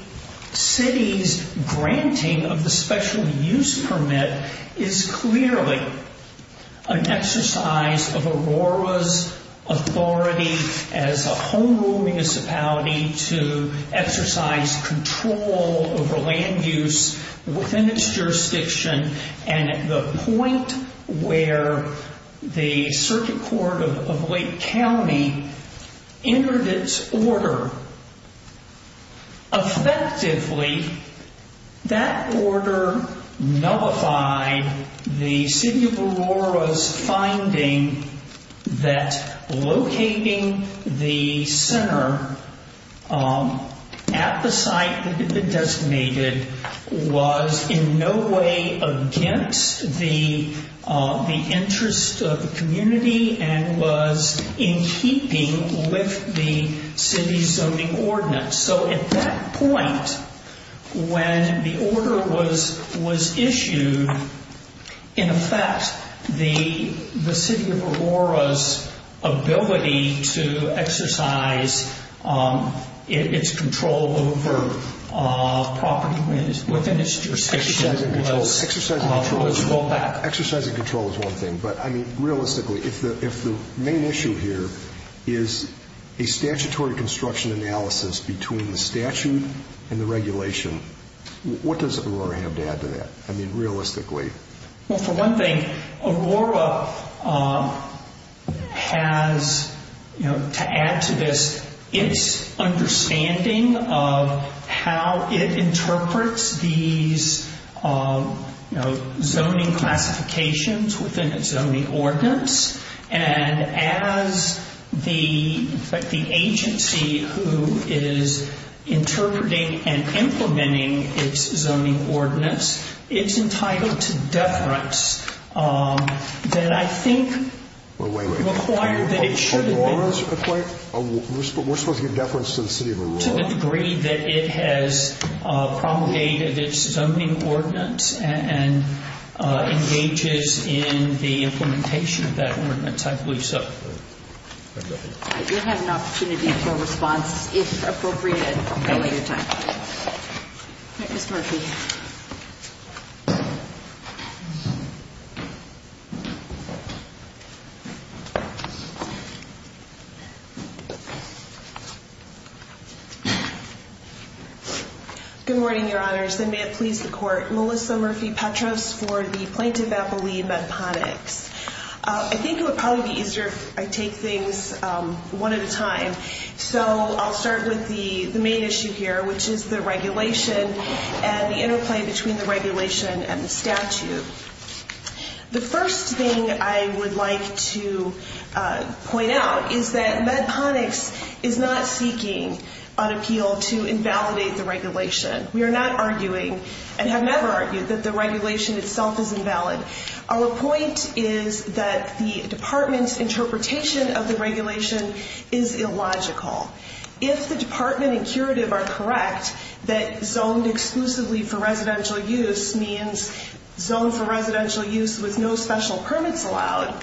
city's granting of the special use permit is clearly an exercise of Aurora's authority as a home rule municipality to exercise control over land use within its jurisdiction and at the point where the circuit court of Boyd County entered its order. Effectively, that order nullified the city of Aurora's finding that locating the center at the site it had been designated was in no way against the interests of the community and was in keeping with the city's zoning ordinance. So at that point, when the order was issued, in effect, the city of Aurora's ability to exercise its control over property within its jurisdiction was rolled back. Exercising control is one thing, but realistically, if the main issue here is a statutory construction analysis between the statute and the regulation, what does Aurora have to add to that? I mean, realistically. Well, for one thing, Aurora has, to add to this, its understanding of how it interprets these zoning classifications within its zoning ordinance, and as the agency who is interpreting and implementing its zoning ordinance, it's entitled to deference that I think requires that it should... Wait, wait, wait. We're supposed to give deference to the city of Aurora? To the degree that it has promulgated its zoning ordinance and engages in the implementation of that ordinance, I believe so. You have an opportunity to respond, if appropriate, at a later time. Ms. Murphy. Good morning, Your Honors. I may have pleased the court. Melissa Murphy-Petros for the plaintiff's affiliate, Ben Pottet. I think it would probably be easier if I take things one at a time. So I'll start with the main issue here, which is the regulation and the interplay between the regulation and the statute. The first thing I would like to point out is that MedPonics is not seeking an appeal to invalidate the regulation. We are not arguing, and have never argued, that the regulation itself is invalid. Our point is that the department's interpretation of the regulation is illogical. If the department and curative are correct, that zoned exclusively for residential use means zoned for residential use with no special permits allowed,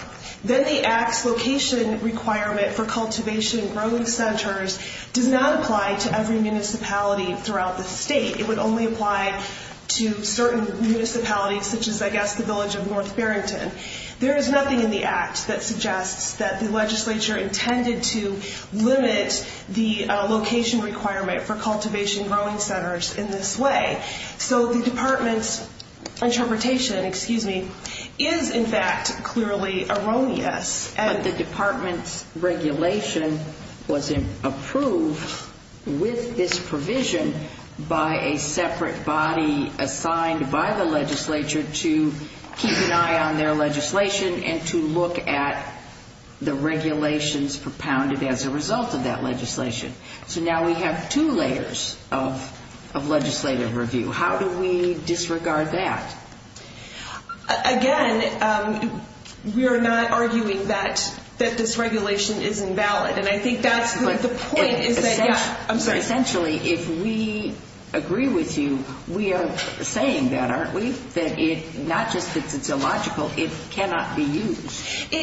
then the Act's location requirement for cultivation and growing centers does not apply to every municipality throughout the state. It would only apply to certain municipalities, such as, I guess, the village of North Farrington. There is nothing in the Act that suggests that the legislature intended to limit the location requirement for cultivation and growing centers in this way. So the department's interpretation is, in fact, clearly erroneous. The department's regulation was approved with this provision by a separate body assigned by the legislature to keep an eye on their legislation and to look at the regulations propounded as a result of that legislation. So now we have two layers of legislative review. How do we disregard that? Again, we are not arguing that this regulation is invalid. And I think that's the point. Essentially, if we agree with you, we are saying that, aren't we? That it's not just that it's illogical. It cannot be used.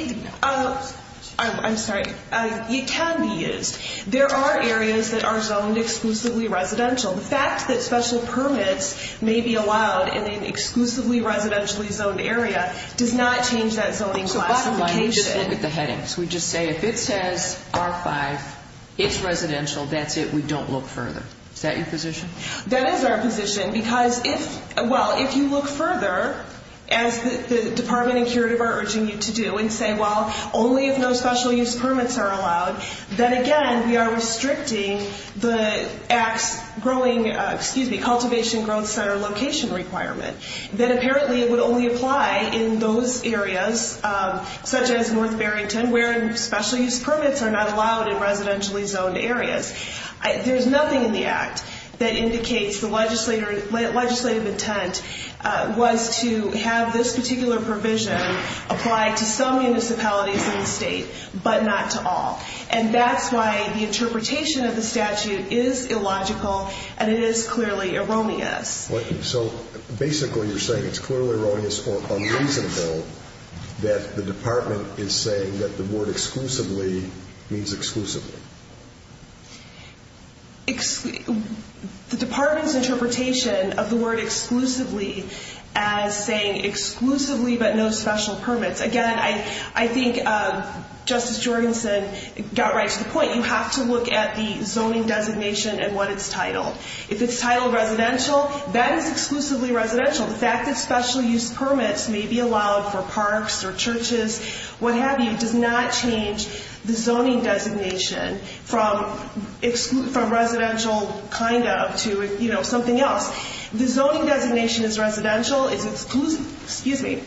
I'm sorry. It can be used. There are areas that are zoned exclusively residential. The fact that special permits may be allowed in an exclusively residentially zoned area does not change that zoning classification. So that's the one we just say with the headings. We just say, if it says R5, it's residential, that's it. We don't look further. Is that your position? That is our position. Because, well, if you look further, as the Department of Interior Department needs to do, and say, well, only if no special use permits are allowed, then, again, we are restricting the act's cultivation growth center location requirement. Then, apparently, it would only apply in those areas, such as North Barrington, where special use permits are not allowed in residentially zoned areas. There's nothing in the act that indicates the legislative intent was to have this particular provision apply to some municipalities in the state, but not to all. And that's why the interpretation of the statute is illogical, and it is clearly erroneous. So, basically, you're saying it's clearly erroneous or unreasonable that the department is saying that the word exclusively means exclusively. The department's interpretation of the word exclusively as saying exclusively but no special permits. Again, I think Justice Jorgenson got right to the point. You have to look at the zoning designation and what it's titled. If it's titled residential, that is exclusively residential. The fact that special use permits may be allowed for parks or churches, what have you, does not change the zoning designation from residential kind of to something else. The zoning designation is residential. Excuse me.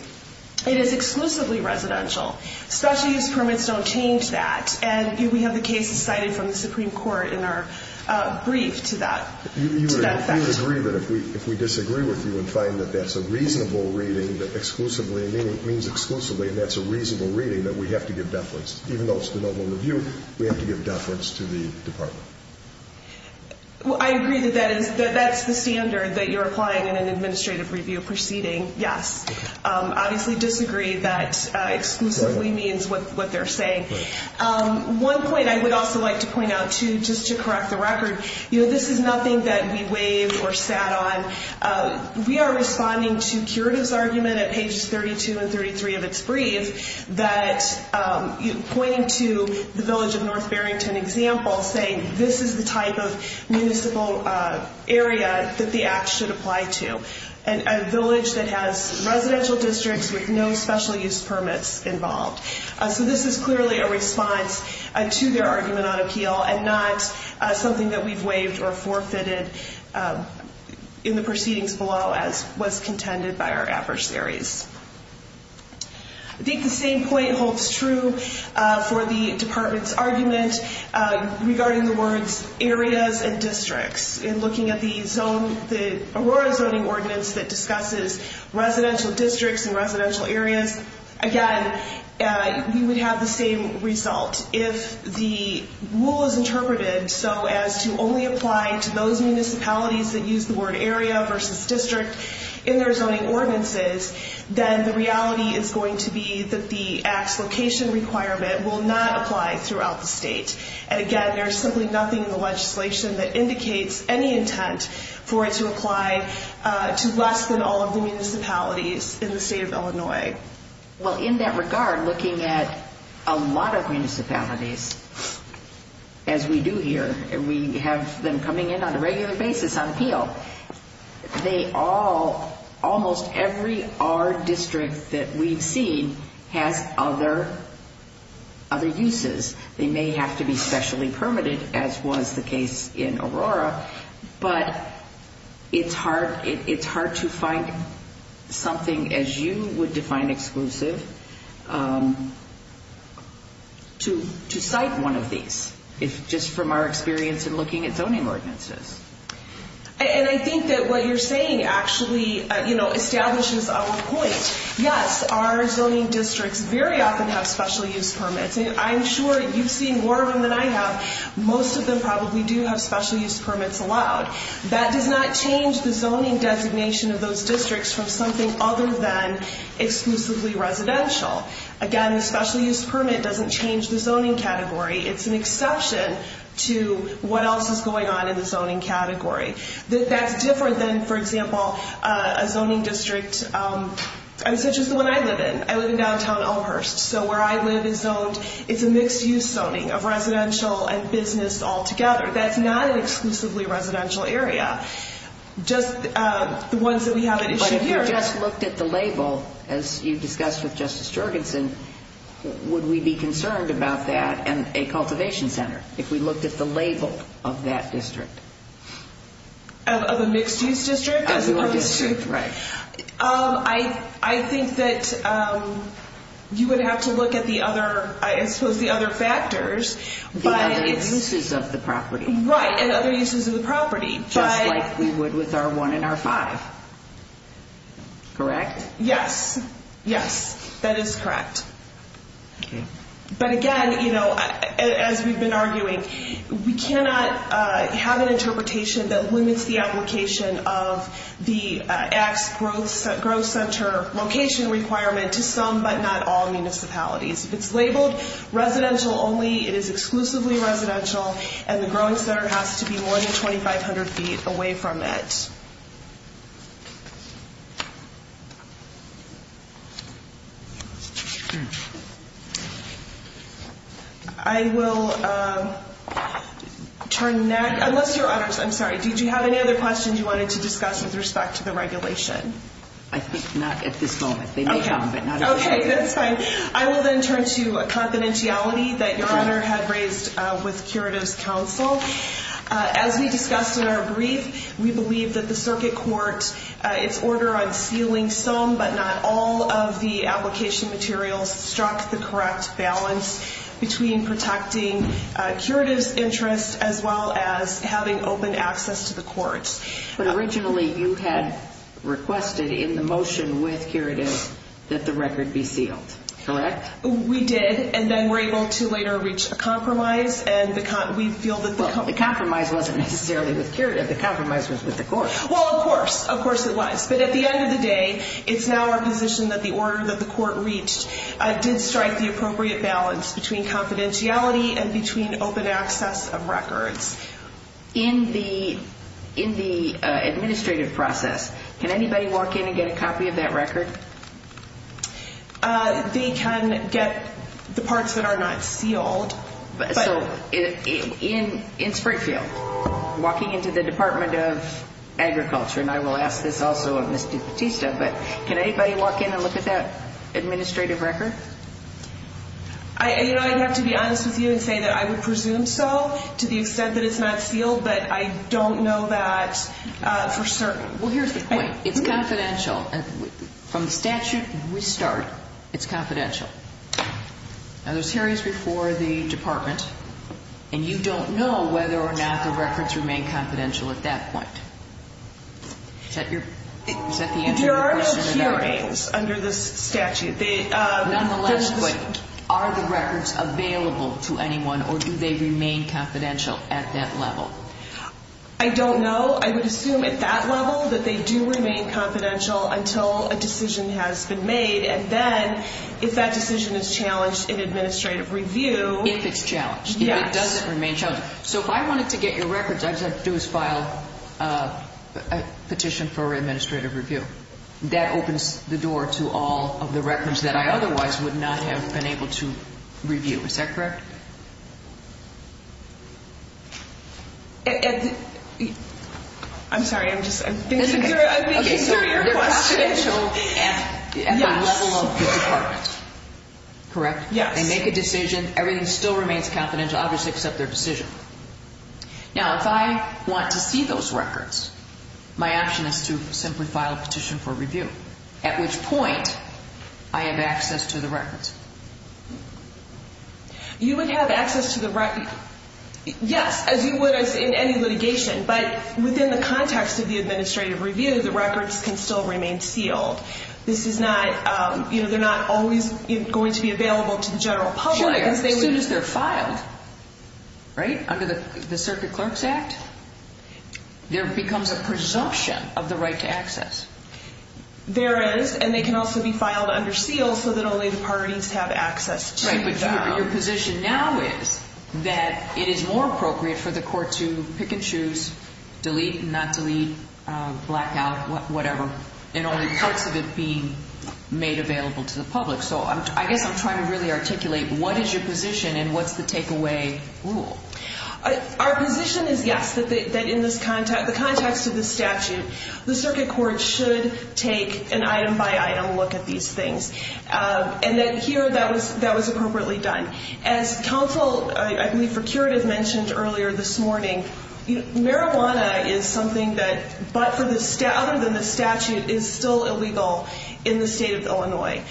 It is exclusively residential. Special use permits don't change that. And we have a case decided from the Supreme Court in our brief to that. You would agree that if we disagree with you and find that that's a reasonable reading, that exclusively means exclusively, and that's a reasonable reading, that we have to give deference. Even though it's the normal review, we have to give deference to the department. Well, I agree with that. That's the standard that you're applying in an administrative review proceeding, yes. Obviously disagree that exclusively means what they're saying. One point I would also like to point out, too, just to correct the record, this is nothing that we waived or sat on. We are responding to Kira's argument at pages 32 and 33 of its brief that pointed to the village of and this is the type of municipal area that the act should apply to, and a village that has residential districts with no special use permits involved. So this is clearly a response to their argument on appeal and not something that we've waived or forfeited in the proceedings below as was contended by our adversaries. I think the same point holds true for the department's argument regarding the words areas and districts in looking at the Aurora zoning ordinance that discusses residential districts and residential areas. Again, we would have the same result. If the rule is interpreted so as to only apply to those municipalities that use the word area versus district in their zoning ordinances, then the reality is going to be that the application requirement will not apply throughout the state. And again, there's simply nothing in the legislation that indicates any intent for it to apply to less than all of the municipalities in the state of Illinois. Well, in that regard, looking at a lot of municipalities, as we do here, and we have them coming in on a regular basis on appeal, almost every R district that we see has other uses. They may have to be specially permitted, as was the case in Aurora, but it's hard to find something, as you would define exclusive, to cite one of these. It's just from our experience in looking at zoning ordinances. And I think that what you're saying actually establishes our point. Yes, our zoning districts very often have special use permits. I'm sure you've seen more of them than I have. Most of them probably do have special use permits allowed. That does not change the zoning designation of those districts from something other than exclusively residential. Again, the special use permit doesn't change the zoning category. It's an exception to what else is going on in the zoning category. That's different than, for example, a zoning district such as the one I live in. I live in downtown Elmhurst. So where I live in zones, it's a mixed-use zoning of residential and business altogether. That's not an exclusively residential area. Just the ones that we have in issue here. If we just looked at the label, as you discussed with Justice Jergenson, would we be concerned about that in a cultivation center, if we looked at the label of that district? Of a mixed-use district? Right. I think that you would have to look at the other factors. But at its uses of the property. Right, at other uses of the property. Just like we would with our 1 and our 5. Correct? Yes. Yes, that is correct. But again, as we've been arguing, we cannot have an interpretation that limits the application of the act's growth center location requirement to some but not all municipalities. It's labeled residential only. It is exclusively residential. And the growth center has to be more than 2,500 feet away from it. I will turn next. I'm sorry. Did you have any other questions you wanted to discuss with respect to the regulation? I think not. Okay. That's fine. I will then turn to confidentiality that Your Honor had raised with curative counsel. As we discussed in our brief, we believe that the circuit court, in order of sealing some but not all of the application materials, struck the correct balance between protecting curative's interest as well as having open access to the court. But originally, you had requested in the motion with curative that the record be sealed. Correct? We did. And then we were able to later reach a compromise. The compromise wasn't necessarily with curative. The compromise was with the court. Well, of course. Of course it was. But at the end of the day, it's now our position that the order that the court reached did strike the appropriate balance between confidentiality and between open access of records. In the administrative process, can anybody walk in and get a copy of that record? They can get the parts that are not sealed. In Springfield? Walking into the Department of Agriculture. And I will ask this also in the Statista. But can anybody walk in and look at that administrative record? You know, I'd have to be honest with you and say that I would presume so to the extent that it's not sealed. But I don't know that for certain. Well, here's the point. It's confidential. From the statute, we started. It's confidential. Now, there's hearings before the departments. And you don't know whether or not the records remain confidential at that point. There are hearings under the statute. Are the records available to anyone, or do they remain confidential at that level? I don't know. I would assume at that level that they do remain confidential until a decision has been made. And then, if that decision is challenged in administrative review. If it's challenged. If it doesn't remain challenged. So, if I wanted to get your records, I'd have to file a petition for administrative review. That opens the door to all of the records that I otherwise would not have been able to review. Is that correct? I'm sorry. I'm just thinking. They're confidential at the level of the department. Correct? Yeah. They make a decision. Everything still remains confidential, obviously, except their decision. Now, if I want to see those records, my option is to simply file a petition for review. At which point, I have access to the records. You would have access to the records. Yes. As you would in any litigation. But within the context of the administrative review, the records can still remain sealed. This is not, you know, they're not always going to be available to the general public. Sure. As soon as they're filed, right, under the Circuit Clerk's Act, there becomes a presumption of the right to access. There is. And they can also be filed under seal so that only the parties have access to them. Right. But your position now is that it is more appropriate for the court to pick and choose, delete and not delete, black out, whatever. And only part of it being made available to the public. So I guess I'm trying to really articulate what is your position and what's the takeaway rule? Our position is, yes, that in the context of the statute, the circuit court should take an item-by-item look at these things. And that here, that was appropriately done. As counsel, I believe the procurator mentioned earlier this morning, marijuana is something that, other than the statute, is still illegal in the state of Illinois.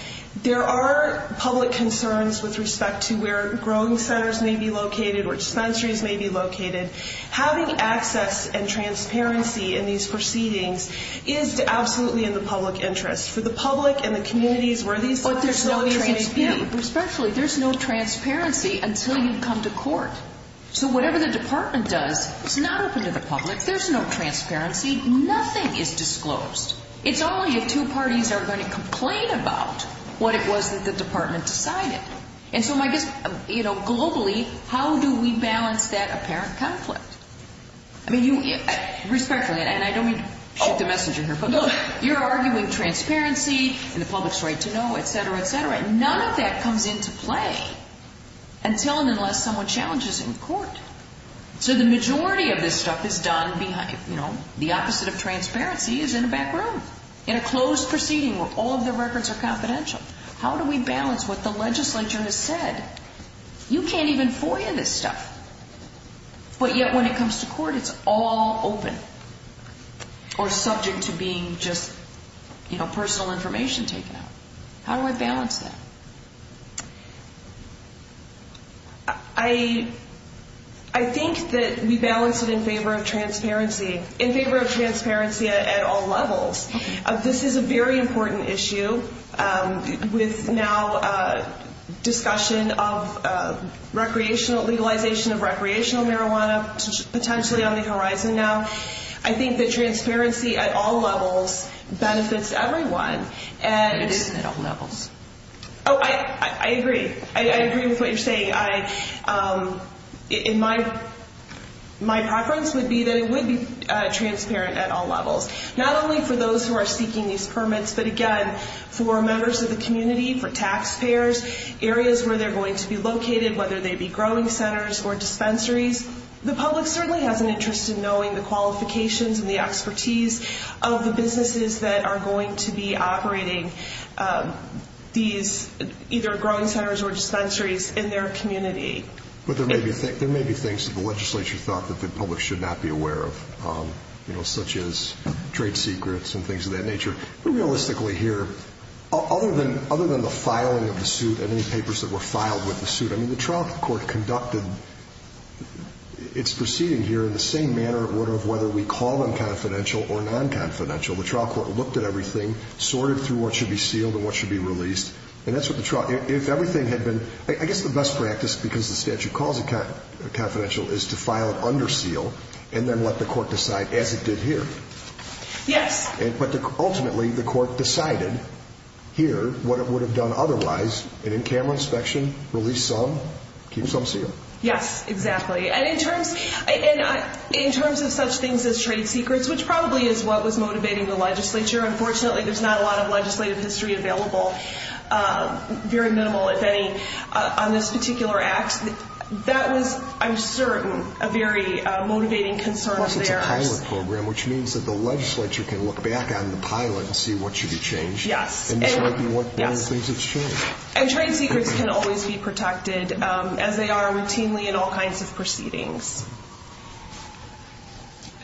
There are public concerns with respect to where growing centers may be located, where dispensaries may be located. Having access and transparency in these proceedings is absolutely in the public interest. For the public and the communities where these facilities may be. But there's no transparency. Especially, there's no transparency until you come to court. So whatever the department does, it's not open to the public. There's no transparency. Nothing is disclosed. It's only if two parties are going to complain about what it was that the department decided. And so I guess, you know, globally, how do we balance that apparent conflict? I mean, respectfully, and I didn't shoot the message in her foot. You're arguing transparency and the public's right to know, et cetera, et cetera. None of that comes into play until and unless someone challenges it in court. So the majority of this stuff is done behind, you know, the opposite of transparency is in the back room. In a closed proceeding where all the records are confidential. How do we balance what the legislature has said? You can't even forward this stuff. But yet, when it comes to court, it's all open. Or subject to being just, you know, personal information taken. How do I balance that? I think that we balance it in favor of transparency. In favor of transparency at all levels. This is a very important issue with now discussion of recreational legalization of recreational marijuana, potentially on the horizon now. I think that transparency at all levels benefits everyone. And it is at all levels. Oh, I agree. I agree with what you're saying. My preference would be that it would be transparent at all levels. Not only for those who are seeking these permits, but, again, for members of the community, for taxpayers, areas where they're going to be located, whether they be growing centers or dispensaries. The public certainly has an interest in knowing the qualifications and the expertise of the businesses that are going to be operating these either growing centers or dispensaries in their community. But there may be things that the legislature thought that the public should not be aware of, you know, such as trade secrets and things of that nature. Realistically here, other than the filing of the suit and these papers that were filed with the suit, I mean, the trial court conducted its proceedings here in the same manner and order of whether we call them confidential. The trial court looked at everything, sorted through what should be sealed and what should be released. And that's what the trial – if everything had been – I guess the best practice, because the statute calls it confidential, is to file under seal and then let the court decide as it did here. Yes. But ultimately the court decided here what it would have done otherwise, and in camera inspection, release some, keep some sealed. Yes, exactly. And in terms of such things as trade secrets, which probably is what was motivating the legislature, unfortunately there's not a lot of legislative history available, very minimal, if any, on this particular act. That was, I'm certain, a very motivating concern there. Well, it's a pilot program, which means that the legislature can look back on the pilot and see what should be changed. Yes. And determine what things have changed. And trade secrets can always be protected, as they are routinely in all kinds of proceedings.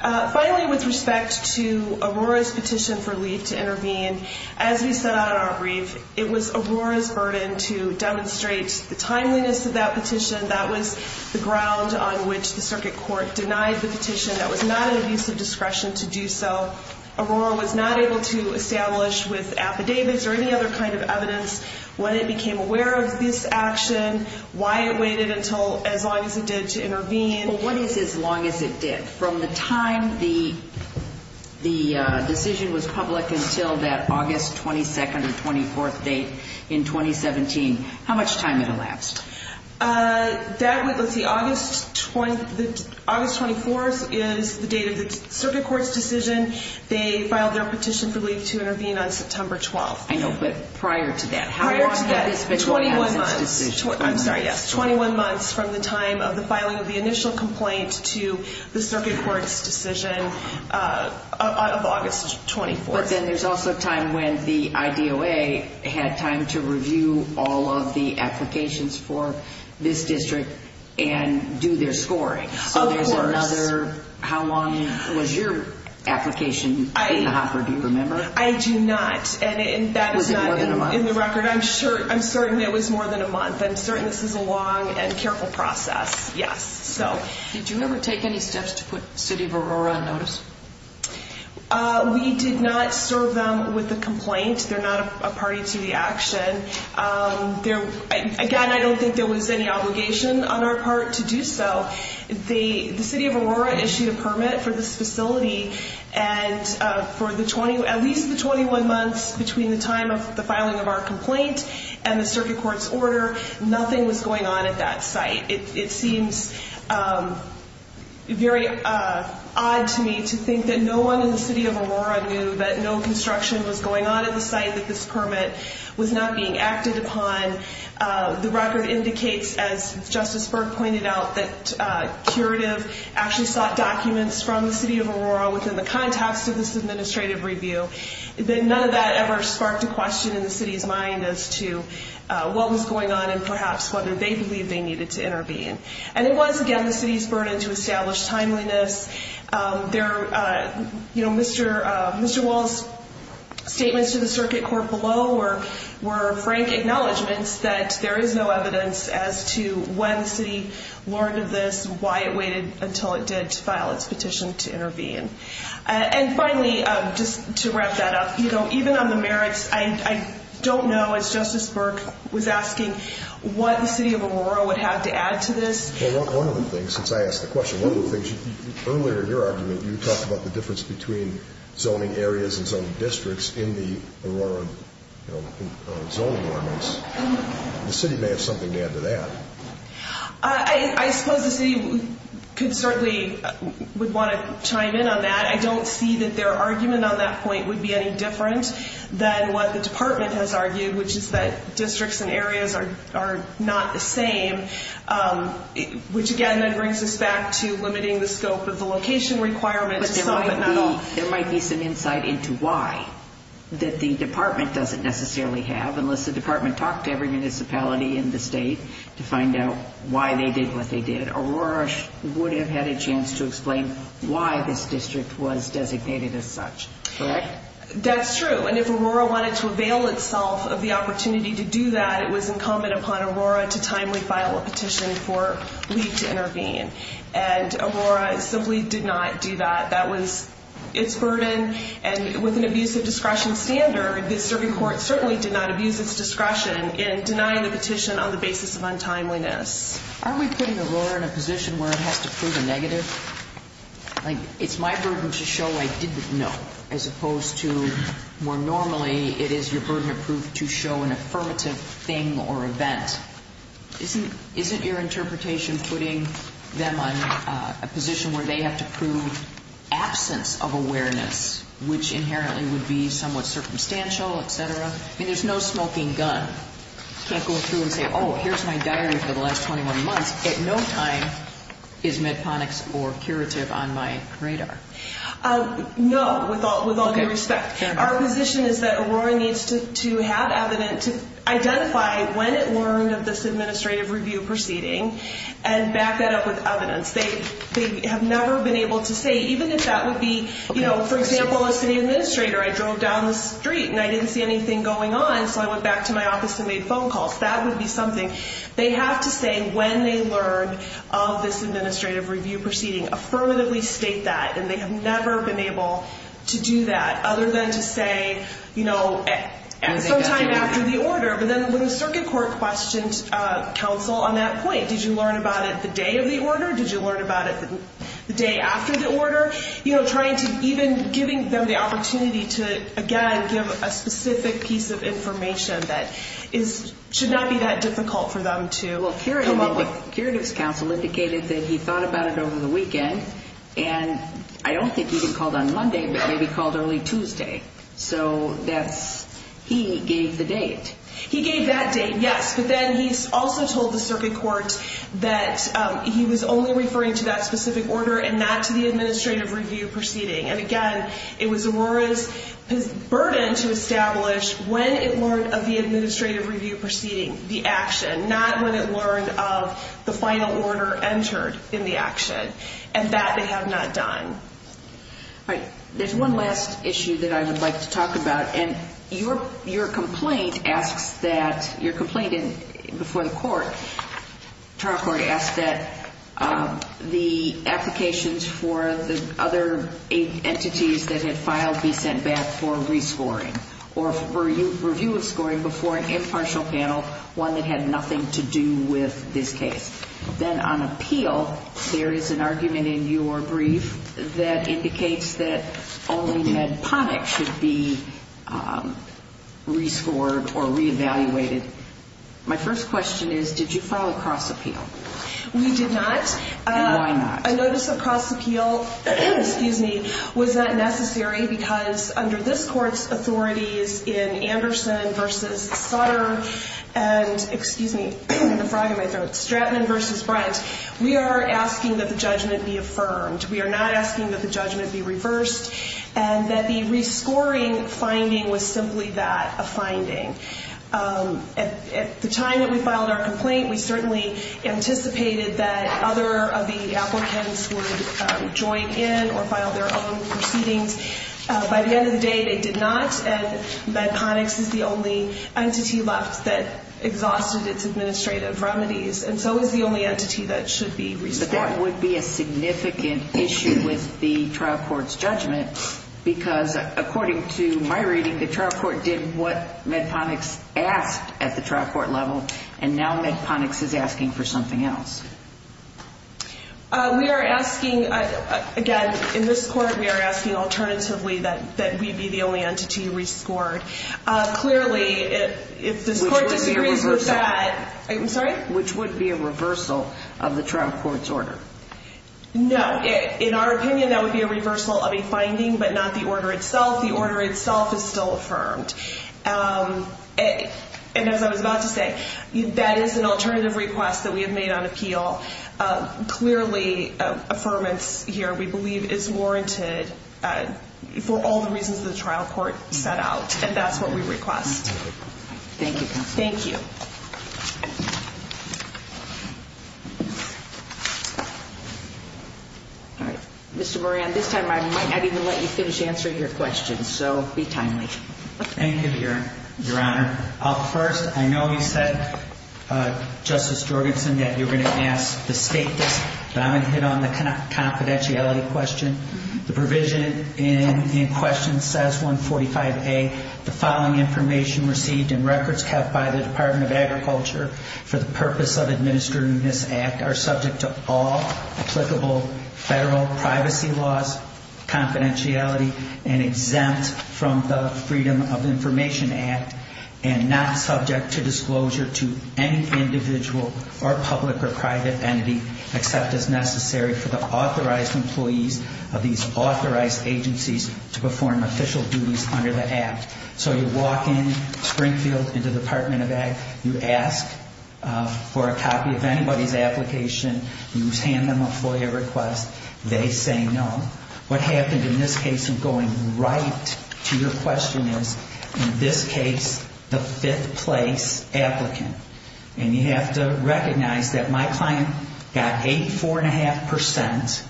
Finally, with respect to Aurora's petition for leave to intervene, as we said on our brief, it was Aurora's burden to demonstrate the timeliness of that petition. That was the ground on which the circuit court denied the petition. That was not a use of discretion to do so. Aurora was not able to establish with affidavits or any other kind of evidence when it became aware of this action, why it waited until as long as it did to intervene. Well, what is as long as it did? From the time the decision was public until that August 22nd or 24th date in 2017, how much time did it last? That was the August 24th is the date of the circuit court's decision. They filed their petition for leave to intervene on September 12th. I know, but prior to that. Prior to that, 21 months. I'm sorry. Yes, 21 months from the time of the filing of the initial complaint to the circuit court's decision of August 24th. There's also a time when the IDOA had time to review all of the applications for this district and do their scoring. Of course. How long was your application? Do you remember? I do not. Was it more than a month? In the record, I'm certain it was more than a month. I'm certain this was a long and careful process. Yes. Did you ever take any steps to put City of Aurora on notice? We did not serve them with a complaint. They're not a party to the action. Again, I don't think there was any obligation on our part to do so. The City of Aurora issued a permit for this facility, and for at least the 21 months between the time of the filing of our complaint and the circuit court's order, nothing was going on at that site. It seems very odd to me to think that no one in the City of Aurora knew that no construction was going on at the site, that this permit was not being acted upon. The record indicates, as Justice Berg pointed out, that curative actually sought documents from the City of Aurora within the context of this administrative review. None of that ever sparked a question in the City's mind as to what was going on and perhaps whether they believed they needed to intervene. It was, again, the City's burden to establish timeliness. Mr. Wall's statements to the circuit court below were frank acknowledgments that there is no evidence as to when the City learned of this, why it waited until it did file its petition to intervene. And finally, just to wrap that up, even on the merits, I don't know, as Justice Berg was asking, what the City of Aurora would have to add to this. One of the things, since I asked the question, earlier in your argument, you talked about the difference between zoning areas and zoning districts in the Aurora zoning ordinance. The City may have something to add to that. I suppose the City could certainly want to chime in on that. I don't see that their argument on that point would be any different than what the Department has argued, which is that districts and areas are not the same, which, again, then brings us back to limiting the scope of the location requirements. There might be some insight into why that the Department doesn't necessarily have, unless the Department talked to every municipality in the state to find out why they did what they did. Aurora would have had a chance to explain why this district was designated as such, correct? That's true. And if Aurora wanted to avail itself of the opportunity to do that, it was incumbent upon Aurora to timely file a petition for leave to intervene. And Aurora simply did not do that. That was its burden, and it was an abuse of discretion standard. The District Court certainly did not abuse its discretion in denying a petition on the basis of untimeliness. Aren't we putting Aurora in a position where it has to prove a negative? Like, it's my burden to show I didn't know, as opposed to, more normally, it is your burden of proof to show an affirmative thing or event. Isn't your interpretation putting them in a position where they have to prove absence of awareness, which inherently would be somewhat circumstantial, et cetera? I mean, there's no smoking gun. You can't go through and say, oh, here's my diary for the last 21 months. At no time is medconics or curative on my radar. No, with all due respect. Our position is that Aurora needs to have evidence to identify when it learned of this administrative review proceeding and back that up with evidence. They have never been able to say, even if that would be, you know, for example, as an administrator, I drove down the street and I didn't see anything going on, so I went back to my office and made phone calls. That would be something they have to say when they learned of this administrative review proceeding, affirmatively state that. And they have never been able to do that, other than to say, you know, sometime after the order. But then the district court questioned counsel on that point. Did you learn about it the day of the order? Did you learn about it the day after the order? You know, trying to even giving them the opportunity to, again, give a specific piece of information that should not be that difficult for them to come up with. So curative counsel indicated that he thought about it over the weekend, and I don't think he even called on Monday, but maybe called early Tuesday, so that he gave the date. He gave that date, yes, but then he also told the circuit court that he was only referring to that specific order and not to the administrative review proceeding. And again, it was Aurora's burden to establish when it learned of the administrative review proceeding, the action, not when it learned of the final order entered in the action. And that they have not done. All right. There's one last issue that I would like to talk about. And your complaint asks that the applications for the other entities that had filed be sent back for a re-scoring or review of scoring before an impartial panel, one that had nothing to do with this case. Then on appeal, there is an argument in your brief that indicates that only MedPonic should be re-scored or re-evaluated. My first question is, did you file a cross-appeal? We did not. Why not? I noticed the cross-appeal was not necessary because under this court's authorities in Anderson v. Potter and Stratton v. Price, we are asking that the judgment be affirmed. We are not asking that the judgment be reversed and that the re-scoring finding was simply that, a finding. At the time that we filed our complaint, we certainly anticipated that other of the applicants would join in or file their own proceedings. By the end of the day, they did not. And MedPonic is the only entity left that exhausted its administrative remedies. And so it's the only entity that should be re-scored. But that would be a significant issue with the trial court's judgment because according to my reading, the trial court did what MedPonic asked at the trial court level. And now MedPonic is asking for something else. We are asking, again, in this court, we are asking alternatively that we be the only entity re-scored. Which would be a reversal of the trial court's order. No. In our opinion, that would be a reversal of a finding but not the order itself. The order itself is still affirmed. And as I was about to say, that is an alternative request that we have made on appeal. Clearly, affirmance here, we believe, is warranted for all the reasons the trial court set out. And that's what we request. Thank you. Thank you. Mr. Moran, this time I might not even let you finish answering your questions. So, be kind to me. Thank you, Your Honor. First, I know you said, Justice Jorgensen, that you were going to ask the State Act. So, I'm going to hit on the confidentiality question. The provision in question says 145A, the following information received in records kept by the Department of Agriculture for the purpose of administering this Act are subject to all applicable federal privacy laws, confidentiality, and exempt from the Freedom of Information Act. And not subject to disclosure to any individual or public or private entity except as necessary for the authorized employees of these authorized agencies to perform official duties under the Act. So, you walk in Springfield in the Department of Ag, you ask for a copy of anybody's application, you hand them a FOIA request, they say no. What happened in this case is going right to your question is, in this case, the fifth place applicant. And you have to recognize that my client got 84.5%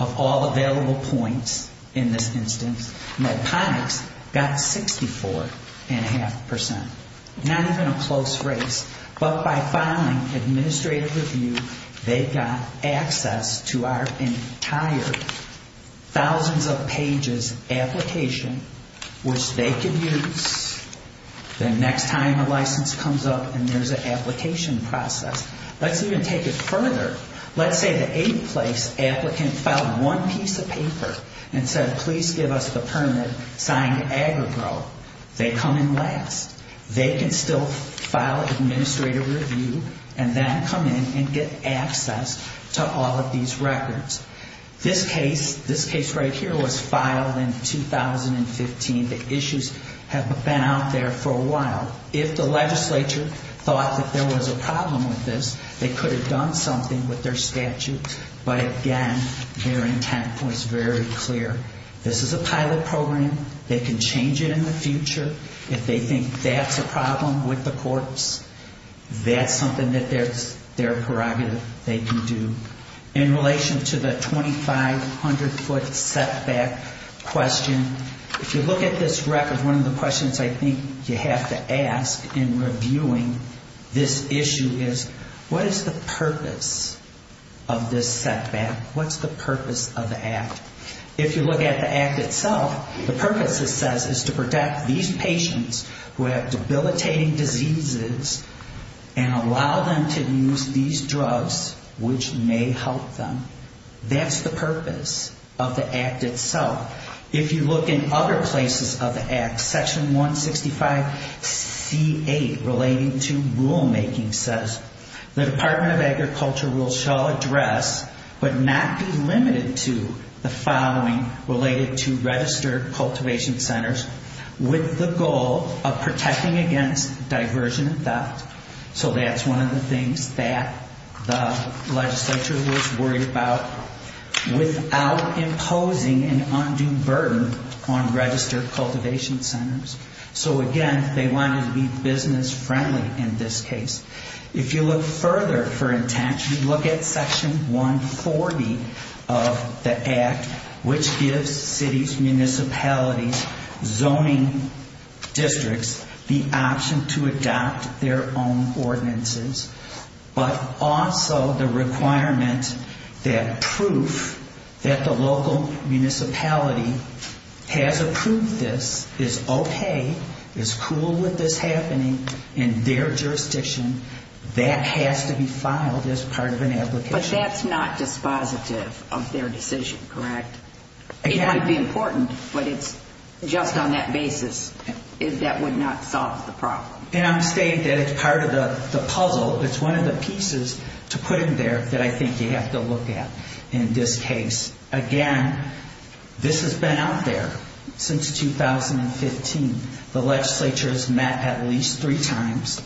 of all available points in this instance. My client got 64.5%. Not even a close race, but by filing, administrators knew they got access to our entire thousands of pages application, which they could use the next time a license comes up and there's an application process. Let's even take it further. Let's say the eighth place applicant filed one piece of paper and said, please give us the permit signed AgroGro. They come in last. They can still file an administrative review and then come in and get access to all of these records. This case, this case right here, was filed in 2015. The issues have been out there for a while. If the legislature thought that there was a problem with this, they could have done something with their statute. But again, their intent was very clear. This is a pilot program. They can change it in the future. If they think that's a problem with the courts, that's something that their prerogative they can do. In relation to the 2,500 foot setback question, if you look at this record, one of the questions I think you have to ask in reviewing this issue is, what is the purpose of this setback? What's the purpose of the act? If you look at the act itself, the purpose it says is to protect these patients who have debilitating diseases and allow them to use these drugs which may help them. That's the purpose of the act itself. If you look in other places of the act, section 165C8 relating to rulemaking says, the Department of Agriculture rules shall address but not be limited to the following related to registered cultivation centers with the goal of protecting against diversion and theft. That's one of the things that the legislature was worried about without imposing an undue burden on registered cultivation centers. Again, they wanted to be business friendly in this case. If you look further, for instance, if you look at section 140 of the act, which gives cities, municipalities, zoning districts the option to adopt their own ordinances, but also the requirement that proof that the local municipality has approved this, is okay, is cool with this happening in their jurisdiction, that has to be filed as part of an application. But that's not the positive of their decision, correct? Exactly. It would be important, but it's just on that basis that would not solve the problem. And I'm saying that it's part of the puzzle. It's one of the pieces to put in there that I think you have to look at in this case. Again, this has been out there since 2015. The legislature has met at least three times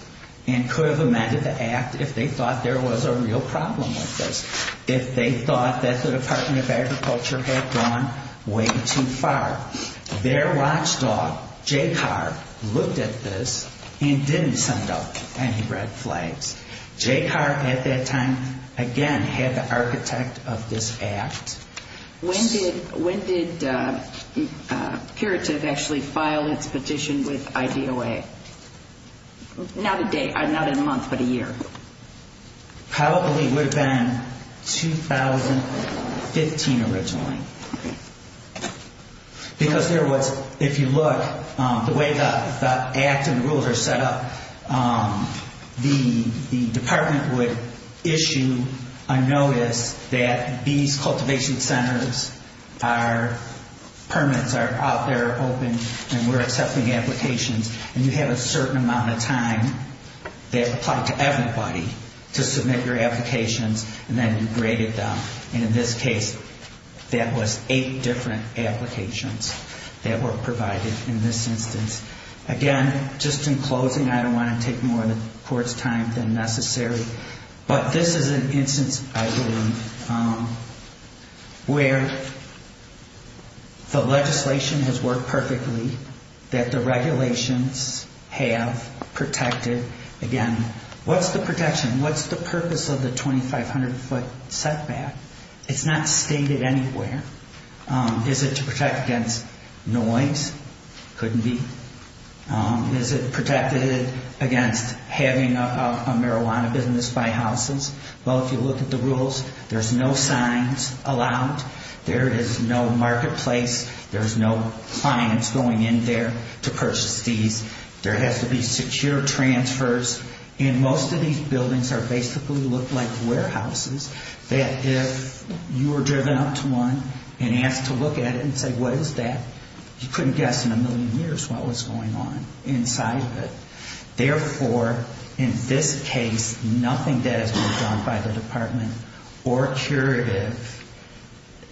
and could have amended the act if they thought there was a real problem with this, if they thought that the Department of Agriculture had gone way too far. Their watchdog, Jay Carr, looked at this and didn't send out any red flags. Jay Carr, at that time, again, had the architect of this act. When did Curative actually file its petition with IDOA? Not a month, but a year. Probably would have been 2015 originally. Because there was, if you look, the way that acts and rules are set up, the department would issue a notice that these cultivation centers, our permits are out there, open, and we're accepting applications. And you have a certain amount of time that applied to everybody to submit your applications and then graded them. And in this case, there was eight different applications that were provided in this instance. Again, just in closing, I don't want to take more of the court's time than necessary, but this is an instance, I believe, where the legislation has worked perfectly, that the regulations have protected, again, what's the protection? What's the purpose of the 2,500 foot setback? It's not stated anywhere. Is it to protect against noise? Couldn't be. Is it protected against having a marijuana business buy houses? Well, if you look at the rules, there's no signs allowed. There is no marketplace. There's no clients going in there to purchase the seed. There has to be secure transfers. And most of these buildings are basically looked like warehouses that if you were driven up to one and you have to look at it and say, what is that? You couldn't guess in a million years what was going on inside of it. Therefore, in this case, nothing that has been done by the department or period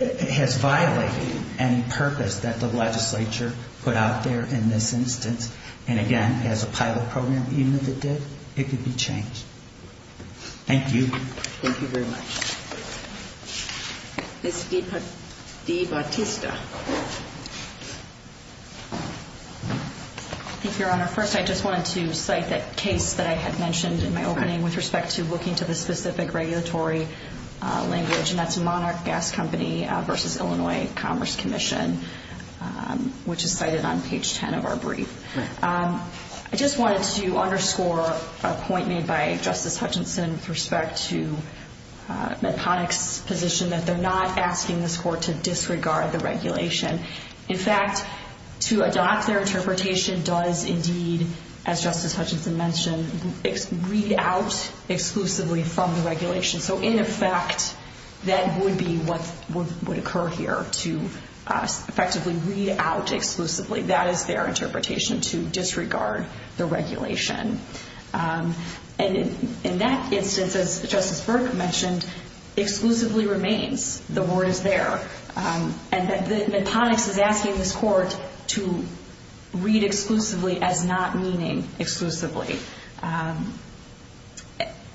has violated any purpose that the legislature put out there in this instance. And again, as a pilot program, even if it did, it could be changed. Thank you. Thank you very much. Ms. DiBattista. Thank you, Your Honor. First, I just wanted to cite the case that I had mentioned in my opening with respect to looking to the specific regulatory language, and that's the Monarch Gas Company v. Illinois Commerce Commission, which is cited on page 10 of our brief. I just wanted to underscore a point made by Justice Hutchinson with respect to the client's position that they're not asking the court to disregard the regulation. In fact, to adopt their interpretation does indeed, as Justice Hutchinson mentioned, read out exclusively from the regulation. So in effect, that would be what would occur here, to effectively read out exclusively. That is their interpretation, to disregard the regulation. And in that instance, as Justice Burke mentioned, exclusively remains. The word is there. And Medponex is asking the court to read exclusively as not meaning exclusively.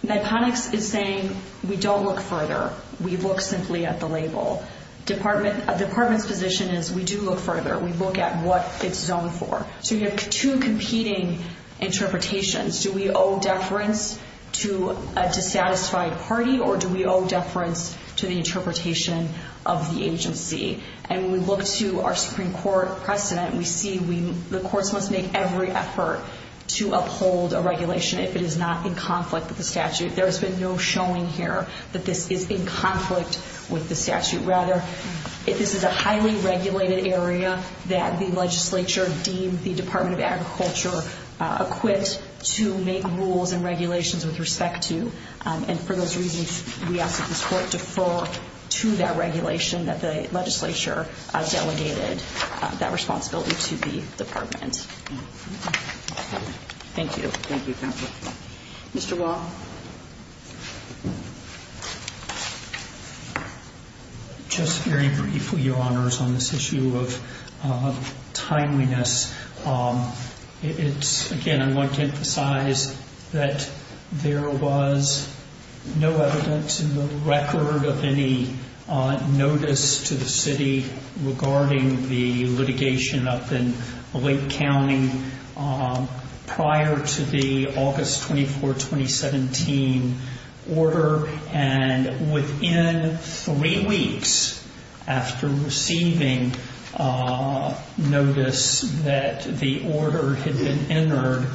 Medponex is saying we don't look further. We look simply at the label. A department's position is we do look further. We look at what it's zoned for. So you have two competing interpretations. Do we owe deference to a dissatisfied party, or do we owe deference to the interpretation of the agency? And when we look to our Supreme Court precedent, we see the courts must make every effort to uphold a regulation if it is not in conflict with the statute. There has been no showing here that this is in conflict with the statute. Rather, this is a highly regulated area that the legislature deems the Department of Agriculture equipped to make rules and regulations with respect to. And for those reasons, we ask that the court defer to that regulation that the legislature delegated that responsibility to the department. Thank you. Thank you. Mr. Wall? Just very briefly, Your Honors, on this issue of timeliness, it's, again, that there was no evidence in the record of any notice to the city regarding the litigation up in Blake County prior to the August 24, 2017, order. And within three weeks after receiving notice that the order had been entered,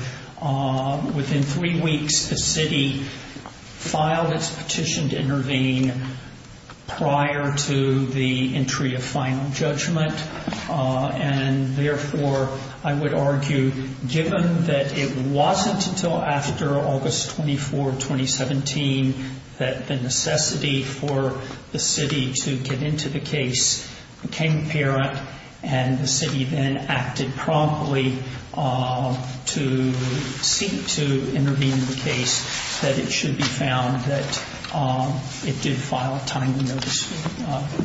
within three weeks the city filed its petition to intervene prior to the entry of final judgment. And therefore, I would argue, given that it wasn't until after August 24, 2017, that the necessity for the city to get into the case became apparent, and the city then acted promptly to seek to intervene in the case, that it should be found that it did file a timely notice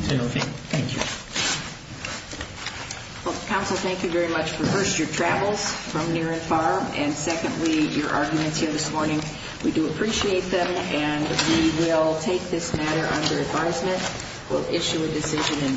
to intervene. Thank you. Well, counsel, thank you very much for, first, your travel from near and far, and secondly, your arguments here this morning. We do appreciate them, and we will take this matter under advisement. We'll issue a decision in due course.